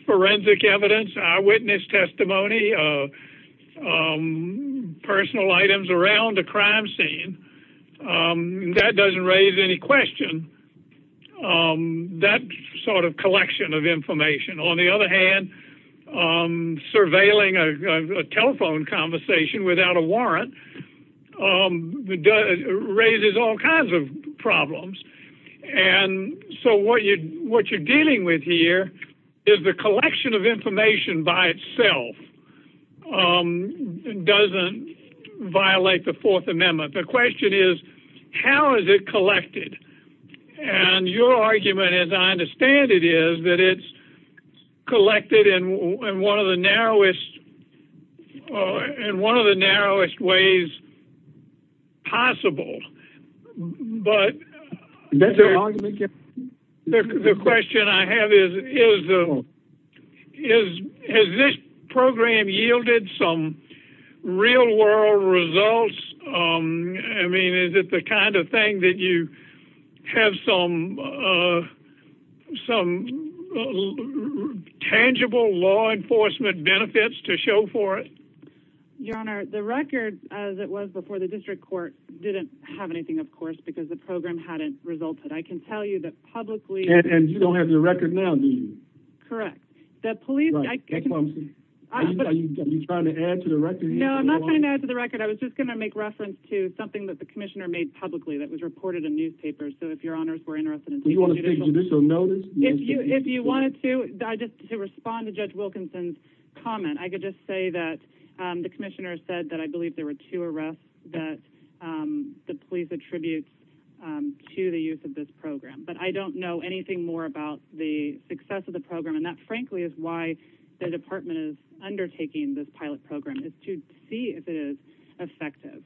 Forensic Evidence Eyewitness testimony Personal Items around the crime scene That doesn't Raise any question That sort of Collection of information On the other hand Surveilling a telephone Conversation Without a warrant Raises all kinds of Problems And so what you're Dealing with here Is the collection of information By itself Doesn't Violate the fourth amendment The question is How is it collected And your argument As I understand it is That it's Collected in one of the Narrowest In one of the narrowest Ways possible But The question I have Is Has this program Yielded some real World results I mean is it the kind of thing That you have Some Some Tangible law enforcement Benefits to show for it Your honor the record As it was before the district court Didn't have anything of course because the program Hadn't resulted I can tell you That publicly And you don't have the record now do you Correct Are you trying to add to the record No I'm not trying to add to the record I was just going to make reference to something that the commissioner Made publicly that was reported in newspapers So if your honors were interested in If you wanted to To respond to judge Wilkinson's comment I could just say That the commissioner said that I Believe there were two arrests that The police attribute To the use of this program But I don't know anything more about The success of the program and that frankly Is why the department is Undertaking this pilot program is to See if it is effective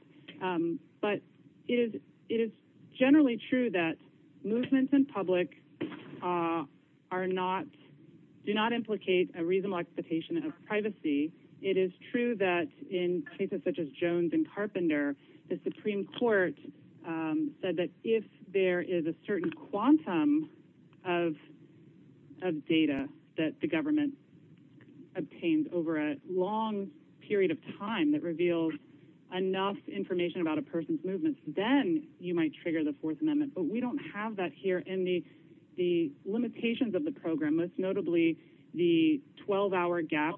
But it is Generally true that Movement in public Are not Do not implicate a reasonable expectation Of privacy it is true That in cases such as jones And carpenter the supreme court Said that if There is a certain quantum Of Data that the government Obtained over a Long period of time that Reveals information about a person's Movement then you might trigger the Fourth amendment but we don't have that here In the limitations of the program Most notably the 12 hour gap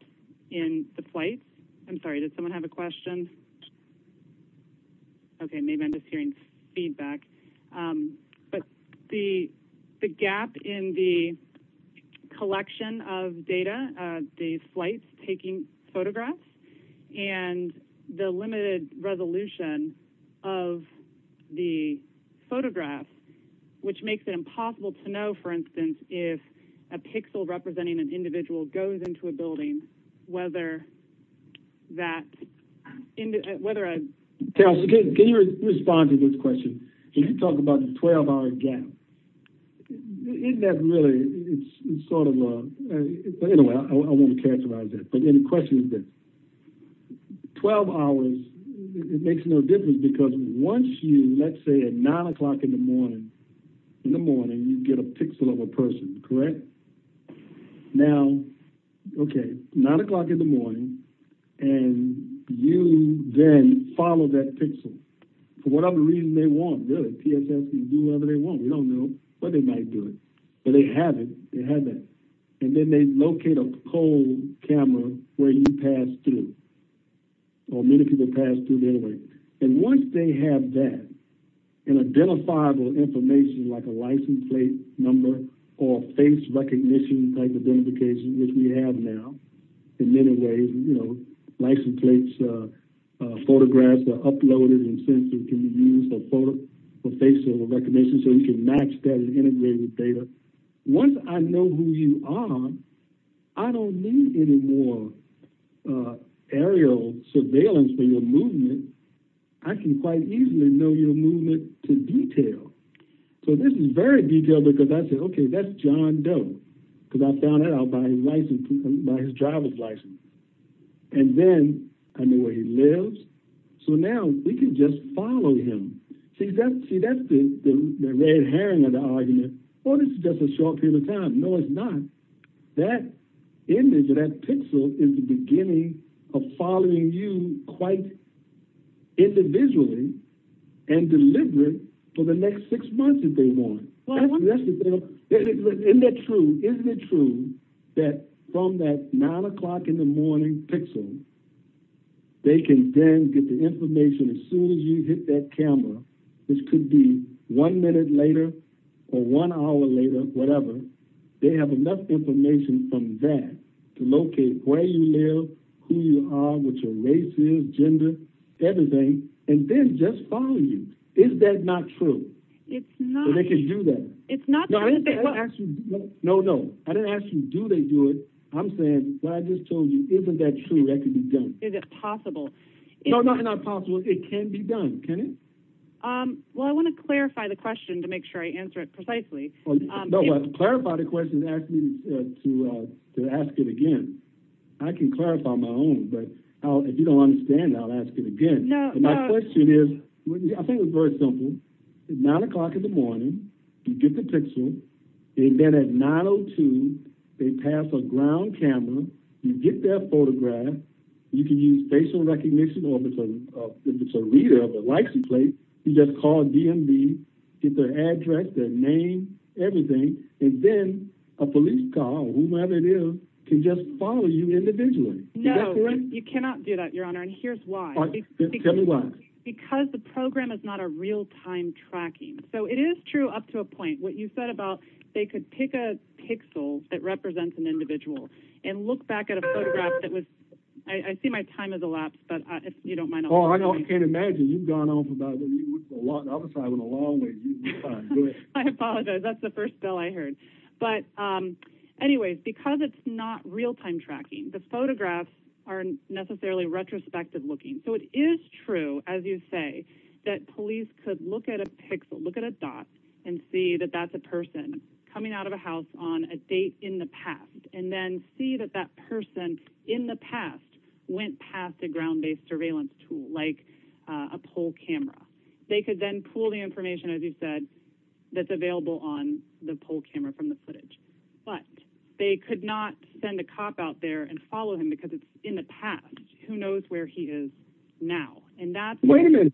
in the Flight I'm sorry does someone have a question Okay maybe I'm just hearing feedback But The gap in the Collection of Data of the flight Taking photographs And the limited Resolution of The photograph Which makes it impossible To know for instance if A pixel representing an individual Goes into a building whether That Whether Can you respond to this question Can you talk about the 12 hour gap Isn't that Really sort of Anyway I want to characterize This but the question is this 12 hours Makes no difference because once You let's say at 9 o'clock in the morning In the morning you get A pixel of a person correct Now Okay 9 o'clock in the morning And you Then follow that pixel For whatever reason they want Really pss and do whatever they want We don't know but they might do it But they haven't they haven't And then they locate a Camera where you pass through Or many people pass Through anyway and once they Have that An identifiable information like a license Plate number or face Recognition type of Indication which we have now In many ways you know license plates Photographs Uploaded and censored can be used For face recognition So you can match that and integrate with data Once I know who you are I don't need Any more Aerial surveillance for your movement I can quite easily Know your movement to detail So this is very detailed Because I said okay that's John Doe Because I found out by his license By his driver's license And then I know where he lives So now We can just follow him See that's the red herring Of the argument Or it's just a short period of time No it's not That pixel is the beginning Of following you quite Individually And deliberate For the next six months if they want Isn't that true Isn't it true That from that nine o'clock in the morning Pixel They can then get the information As soon as you hit that camera Which could be one minute later Or one hour later Whatever They have enough information from that To locate where you live Who you are, what your race is, gender Everything And then just following you Is that not true They can do that No no I didn't ask you do they do it I'm saying I just told you isn't that true Is it possible No not possible It can be done Well I want to clarify the question To make sure I answer it precisely To clarify the question Ask me to ask it again I can clarify my own But if you don't understand I'll ask it again My question is I think it's very simple Nine o'clock in the morning You get the pixel And then at 9.02 They pass a ground camera You get their photograph You can use facial recognition Or if it's a reader You just call DMV Get their address, their name Everything And then a police car Can just follow you individually No you cannot do that Your honor and here's why Because the program is not a real time tracking So it is true up to a point What you said about They could pick a pixel That represents an individual And look back at a photograph I see my time has elapsed You don't mind I can't imagine I apologize that's the first bill I heard But anyways Because it's not real time tracking The photographs aren't necessarily Retrospective looking So it is true as you say That police could look at a pixel Look at a dot and see that that's a person Coming out of a house on a date in the past And then see that that person In the past Went past a ground based surveillance tool Like a poll camera They could then pull the information As you said That's available on the poll camera From the footage But they could not send a cop out there And follow him because it's in the past Who knows where he is now Wait a minute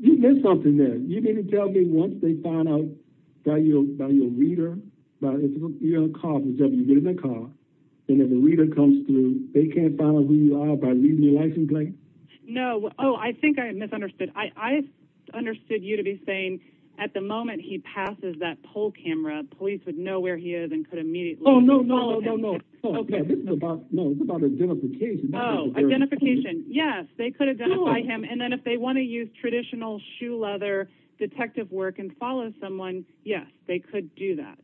You missed something there You didn't tell me once they found out By your reader By your cop And if a reader comes through They can't find out who you are By reading your license plate No, I think I misunderstood I understood you to be saying At the moment he passes that poll camera Police would know where he is And could immediately Oh no, this is about identification Identification Yes, they could identify him And then if they want to use traditional Shoe leather detective work And follow someone Yes, they could do that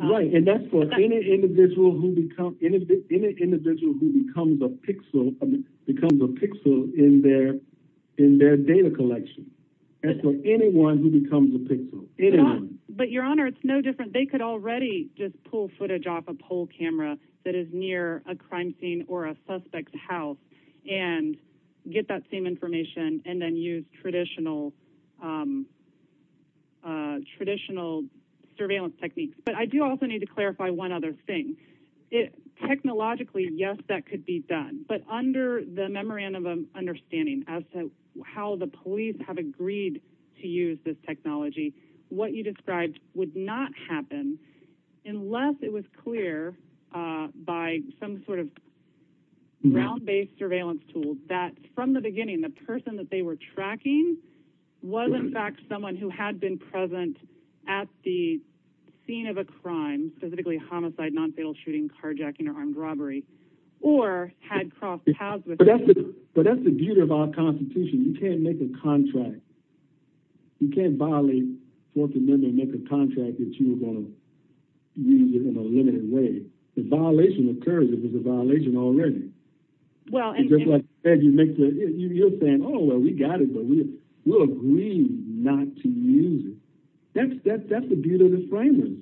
Right, and that's for any individual Who becomes a pixel Becomes a pixel In their data collection That's for anyone Who becomes a pixel But your honor, it's no different They could already just pull footage off a poll camera That is near a crime scene Or a suspect's house And get that same information And then use traditional Traditional surveillance techniques But I do also need to clarify one other thing Technologically Yes, that could be done But under the memorandum of understanding As to how the police Have agreed to use this technology What you described Would not happen Unless it was clear By some sort of Ground-based surveillance tool That from the beginning The person that they were tracking Was in fact someone who had been present At the Scene of a crime Specifically homicide, non-fatal shooting, carjacking Or armed robbery Or had crossed paths with But that's the beauty of our Constitution You can't make a contract You can't violate Fourth Amendment And make a contract that you were going to Use in a limited way The violation of courage is a violation already Well You're saying Oh, we got it, but we'll agree Not to use it That's the beauty of the framework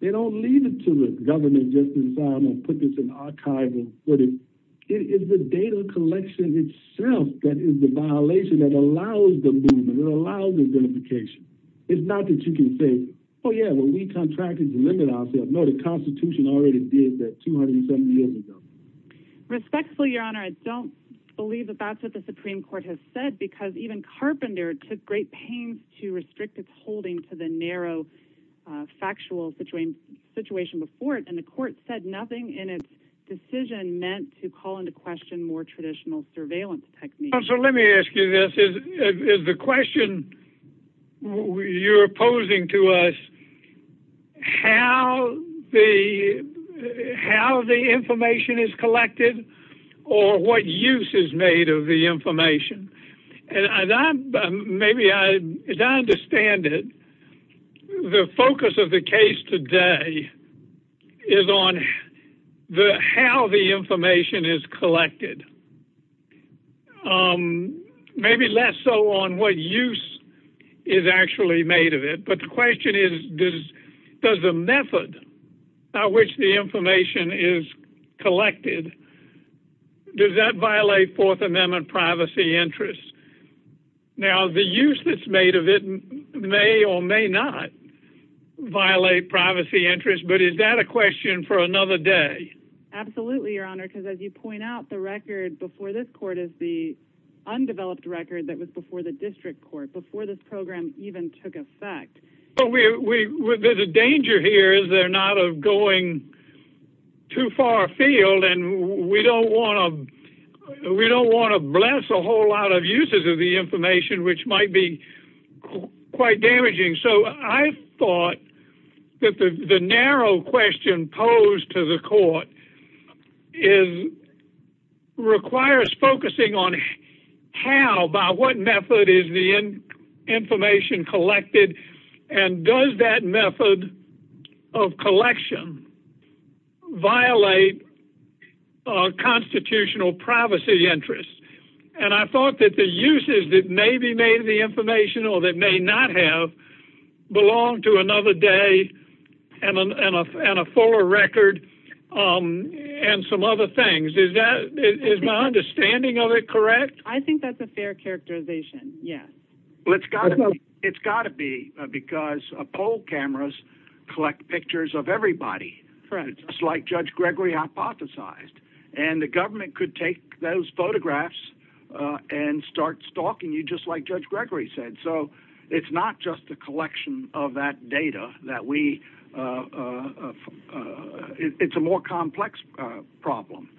They don't leave it to the Government just to say I'm going to put this in archives and put it It is the data collection itself That is the violation that allows Them to use it, it allows identification It's not that you can say Oh yeah, but we contracted to limit ourselves No, the Constitution already did that 270 years ago Respectfully, Your Honor, I don't Believe that that's what the Supreme Court has said Because even Carpenter took great pain To restrict its holding To the narrow factual Situation before it And the Court said nothing in its Decision meant to call into question More traditional surveillance techniques So let me ask you this Is the question You're opposing to us How The How the information is collected Or what use Is made of the information And I Maybe I As I understand it The focus of the case today Is on How the information Is collected Maybe Less so on what use Is actually made of it But the question is Does the method By which the information is Collected Does that violate Fourth Amendment Privacy interests Now the use that's made of it May or may not Violate privacy interests But is that a question for another day Absolutely, Your Honor Because as you point out, the record before this Court is the undeveloped Record that was before the District Court Before this program even took effect But there's a danger Here is there not of going Too far afield And we don't want to We don't want to bless A whole lot of uses of the information Which might be Quite damaging so I Thought that the Narrow question posed to the Court is Requires Focusing on how By what method is the Information collected And does that method Of collection Violate Constitutional Privacy interests And I thought that the uses that may Be made of the information or that may not Have belong to Another day And a former record And some other things Is that My understanding of it correct I think that's a fair characterization It's got to be Because poll cameras Collect pictures of everybody Just like Judge Gregory hypothesized And the government Could take those photographs And start stalking you Just like Judge Gregory said So it's not just a collection Of that data That we It's a more complex Problem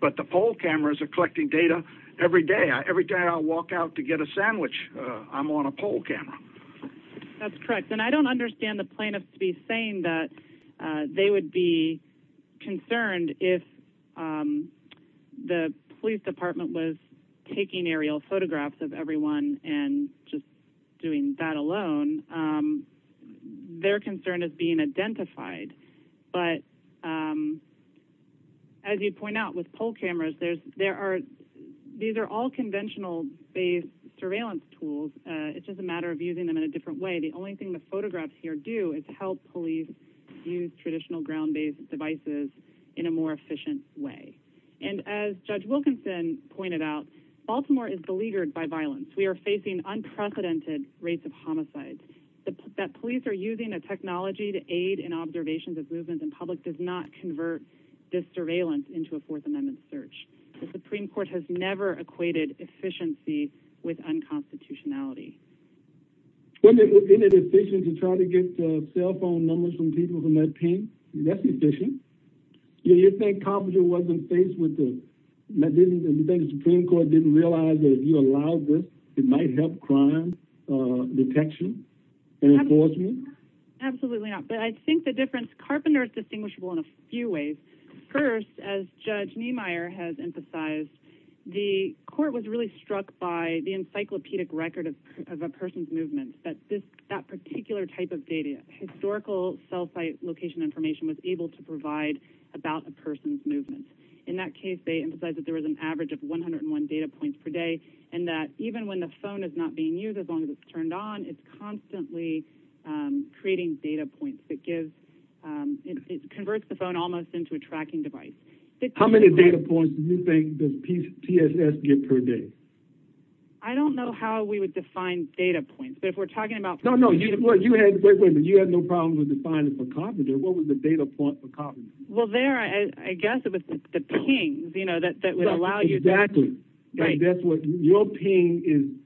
But the poll cameras are collecting data Every day Every day I walk out to get a sandwich I'm on a poll camera That's correct and I don't understand the plaintiffs To be saying that They would be concerned If The police department was Taking aerial photographs of everyone And just Doing that alone Their concern is being identified But As you point out With poll cameras These are all conventional Based surveillance tools It's just a matter of using them in a different way The only thing the photographs here do Is help police use traditional Ground-based devices in a more Efficient way And as Judge Wilkinson pointed out Baltimore is beleaguered by violence We are facing unprecedented rates Of homicides That police are using a technology to aid In observations of movements in public Does not convert this surveillance Into a Fourth Amendment search The Supreme Court has never equated Efficiency with unconstitutionality Isn't it efficient To try to get Cell phone numbers from people From that team? That's efficient You think the Supreme Court Didn't realize that if you allow this It might help crime Detection Absolutely not But I think the difference Carpenter is distinguishable in a few ways First as Judge Niemeyer has emphasized The court was really struck By the encyclopedic record Of a person's movement That particular type of data Historical cell site location information Was able to provide About a person's movement In that case they emphasized That there was an average of 101 data points per day And that even when the phone Is not being used as long as it's turned on It's constantly Creating data points It converts the phone almost Into a tracking device How many data points does TSS get per day? I don't know how we would define Data points You had no problem Defining for Carpenter What was the data point for Carpenter? Well there I guess The ping Exactly Your ping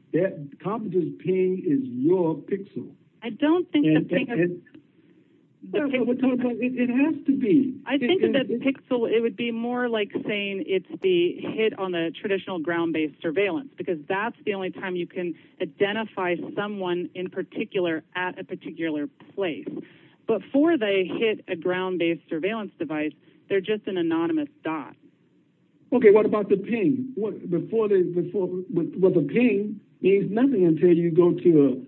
Carpenter's ping is your pixel I don't think It has to be I think the pixel It would be more like saying It's the hit on the traditional Ground based surveillance Because that's the only time you can identify Someone in particular At a particular place Before they hit a ground based Surveillance device They're just an anonymous dot Okay what about the ping? The ping Means nothing until you go to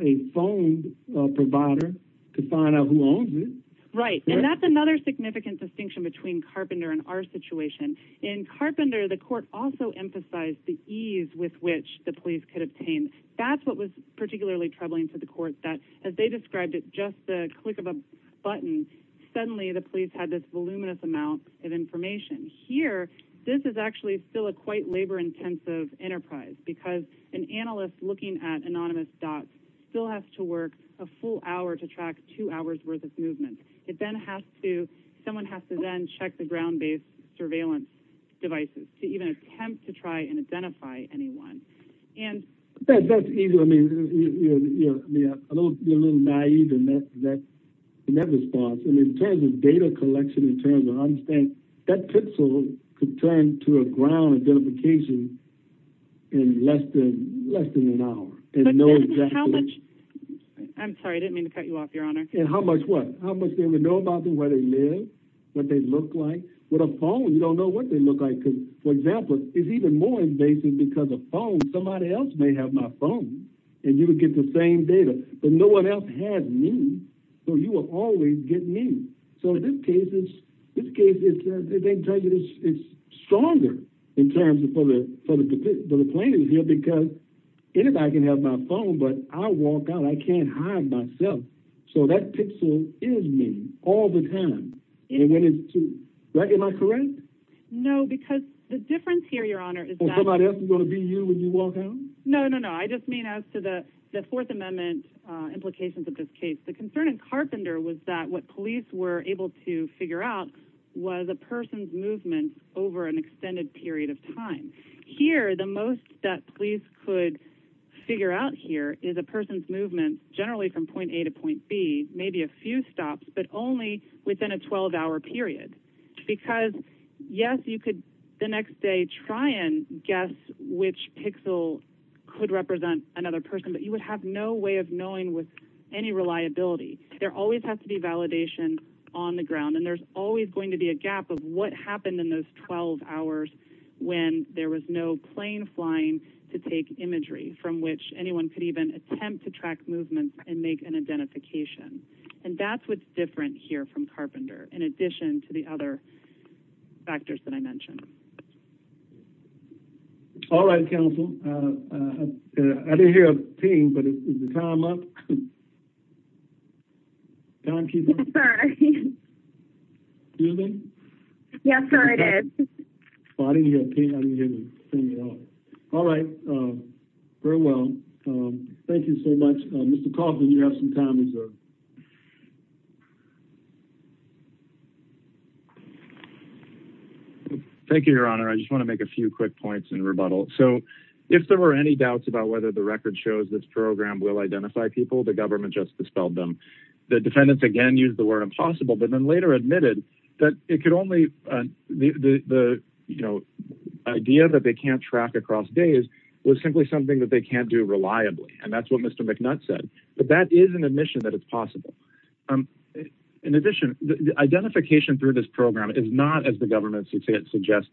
A phone Provider to find out who owns it Right and that's another Significant distinction between Carpenter And our situation In Carpenter the court also emphasized The ease with which the police could obtain That's what was particularly troubling To the court that as they described it Just the click of a button Suddenly the police had this voluminous Amount of information Here this is actually still a quite Labor intensive enterprise Because an analyst looking at Anonymous dots still has to work A full hour to track two hours Worth of movement Someone has to then check the ground based Surveillance devices To even attempt to try and identify Anyone That's easy I mean You're a little naive In that response In terms of data collection That could turn To a ground identification In less than An hour I'm sorry I didn't mean to cut you off Your honor How much they would know about them What they look like With a phone you don't know what they look like For example It's even more invasive because a phone Somebody else may have my phone And you would get the same data But no one else has me So you will always get me So in this case It's stronger In terms of The claim here because Anybody can have my phone But I walk out I can't hide myself So that pixel is me All the time Am I correct No because The difference here your honor Is that I just mean as to the Fourth amendment implications of this case The concern in Carpenter was that What police were able to figure out Was a person's movement Over an extended period of time Here the most that Police could figure out Here is a person's movement Generally from point A to point B Maybe a few stops But only within a 12 hour period Because yes you could The next day try and Guess which pixel Could represent another person But you would have no way of knowing With any reliability There always has to be validation on the ground And there's always going to be a gap Of what happened in those 12 hours When there was no plane Flying to take imagery From which anyone could even attempt To track movement and make an identification And that's what's different Here from Carpenter In addition to the other factors That I mentioned All right counsel I didn't hear a ping But is the time up Yes sir Can you hear me Yes sir I did I didn't hear a ping All right All right Very well Thank you so much Thank you your honor I just want to make a few quick points So if there were any doubts About whether the record shows This program will identify people The government just dispelled them The defendants again used the word impossible But then later admitted That it could only The you know Idea that they can't track across days Was simply something that they can't do reliably And that's what Mr. McNutt said But that is an admission that it's possible In addition The identification through this program Is not as the government suggests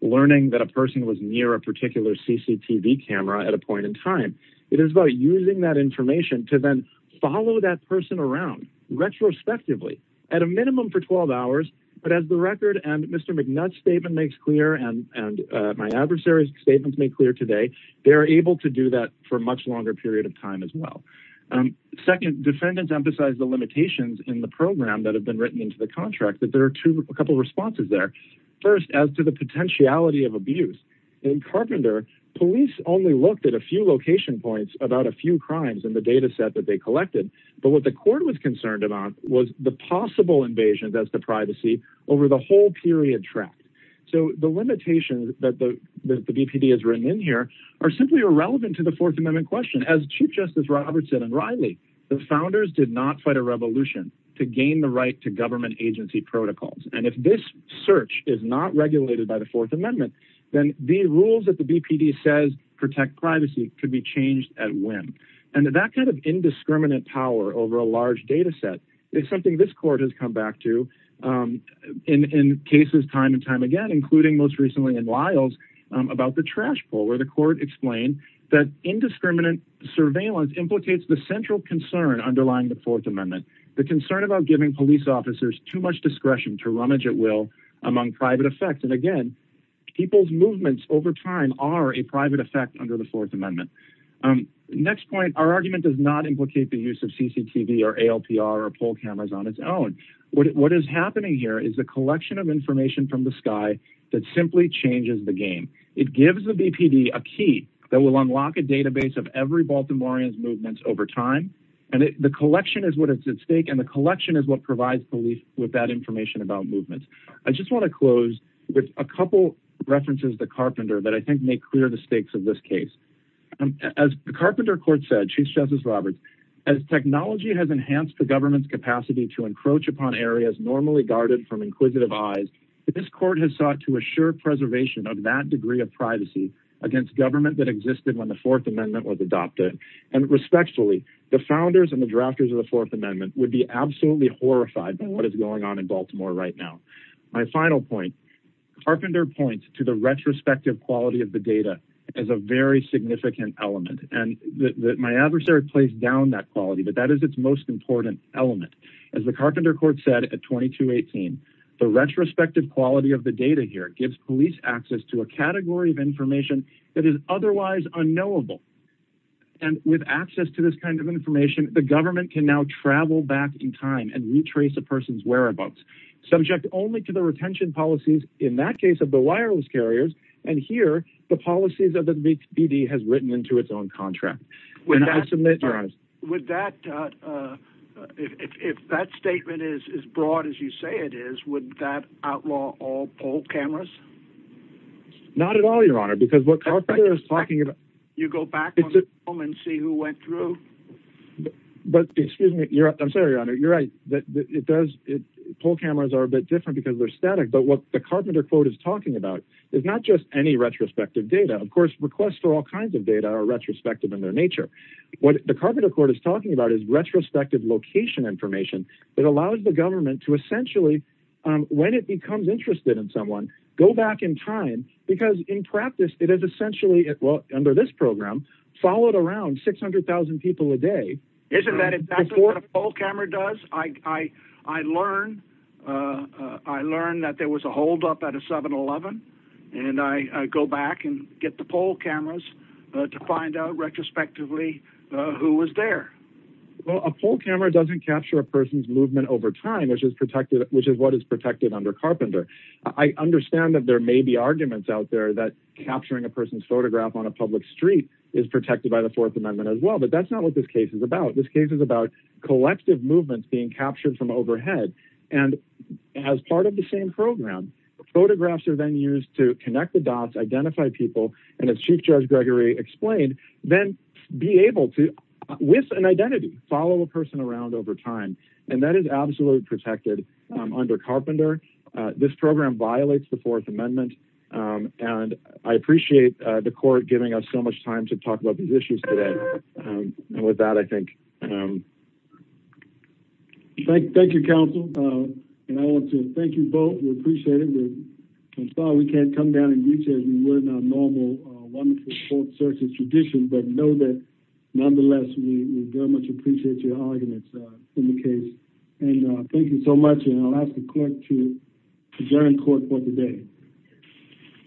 Learning that a person was near A particular CCTV camera At a point in time It is about using that information To then follow that person around Retrospectively At a minimum for 12 hours But as the record and Mr. McNutt's statement Makes clear and my adversary's Statement made clear today They are able to do that for a much longer period of time As well Second defendants emphasized the limitations In the program that have been written into the contract That there are a couple of responses there First as to the potentiality of abuse In Carpenter Police only looked at a few location points About a few crimes in the data set That they collected But what the court was concerned about Was the possible invasion of the privacy Over the whole period track So the limitations that the BPD Has written in here Are simply irrelevant to the Fourth Amendment question As Chief Justice Robertson and Riley The founders did not fight a revolution To gain the right to government agency protocols And if this search Is not regulated by the Fourth Amendment Then the rules that the BPD says Protect privacy Could be changed at when And that kind of indiscriminate power Over a large data set Is something this court has come back to In cases time and time again Including most recently in Wiles About the trash pull Where the court explained That indiscriminate surveillance Implicates the central concern underlying the Fourth Amendment The concern about giving police officers Too much discretion to rummage at will Among private effects And again people's movements over time Are a private effect under the Fourth Amendment Next point Our argument does not implicate the use of CCTV Or ALPR or poll cameras on its own What is happening here Is a collection of information from the sky That simply changes the game It gives the BPD a key That will unlock a database Of every Baltimorean's movements over time And the collection is what is at stake And the collection is what provides police With that information about movements I just want to close with a couple References to Carpenter That I think make clear the stakes of this case As Carpenter Court said Chief Justice Roberts As technology has enhanced the government's capacity To encroach upon areas normally guarded From inquisitive eyes This court has sought to assure preservation Of that degree of privacy Against government that existed when the Fourth Amendment Was adopted And respectfully the founders and the drafters of the Fourth Amendment Would be absolutely horrified By what is going on in Baltimore right now My final point Carpenter points to the retrospective quality Of the data As a very significant element And my adversary plays down that quality But that is its most important element As the Carpenter Court said At 2218 The retrospective quality of the data here Gives police access to a category of information That is otherwise unknowable And with access to this kind of information The government can now travel back in time And retrace a person's whereabouts Subject only to the retention policies In that case of the wireless carriers And here the policies of the BB Has written into its own contract Would that Would that If that statement is As broad as you say it is Would that outlaw all poll cameras? Not at all your honor Because what Carpenter is talking about You go back on the film and see who went through But Excuse me I'm sorry your honor Poll cameras are a bit different Because they're static But what the Carpenter Court is talking about Is not just any retrospective data Of course requests for all kinds of data Are retrospective in their nature What the Carpenter Court is talking about Is retrospective location information That allows the government to essentially When it becomes interested in someone Go back in time Because in practice it is essentially Well under this program Followed around 600,000 people a day Isn't that What a poll camera does? I learned I learned that there was a hold up At a 7-11 And I go back and get the poll cameras To find out retrospectively Who was there Well a poll camera doesn't capture A person's movement over time Which is what is protected under Carpenter I understand that there may be Arguments out there that capturing A person's photograph on a public street Is protected by the Fourth Amendment as well But that's not what this case is about This case is about collective movements Being captured from overhead And as part of the same program Photographs are then used to connect the dots Identify people And as Chief Judge Gregory explained Then be able to With an identity follow a person around over time And that is absolutely protected Under Carpenter This program violates the Fourth Amendment And I appreciate The court giving us so much time To talk about these issues today And with that I think Thank you Counsel And I want to thank you both We appreciate it We can't come down and reach you As we would on all the wonderful court services But know that nonetheless We very much appreciate your audience In the case And thank you so much And I'll ask the court to adjourn court for the day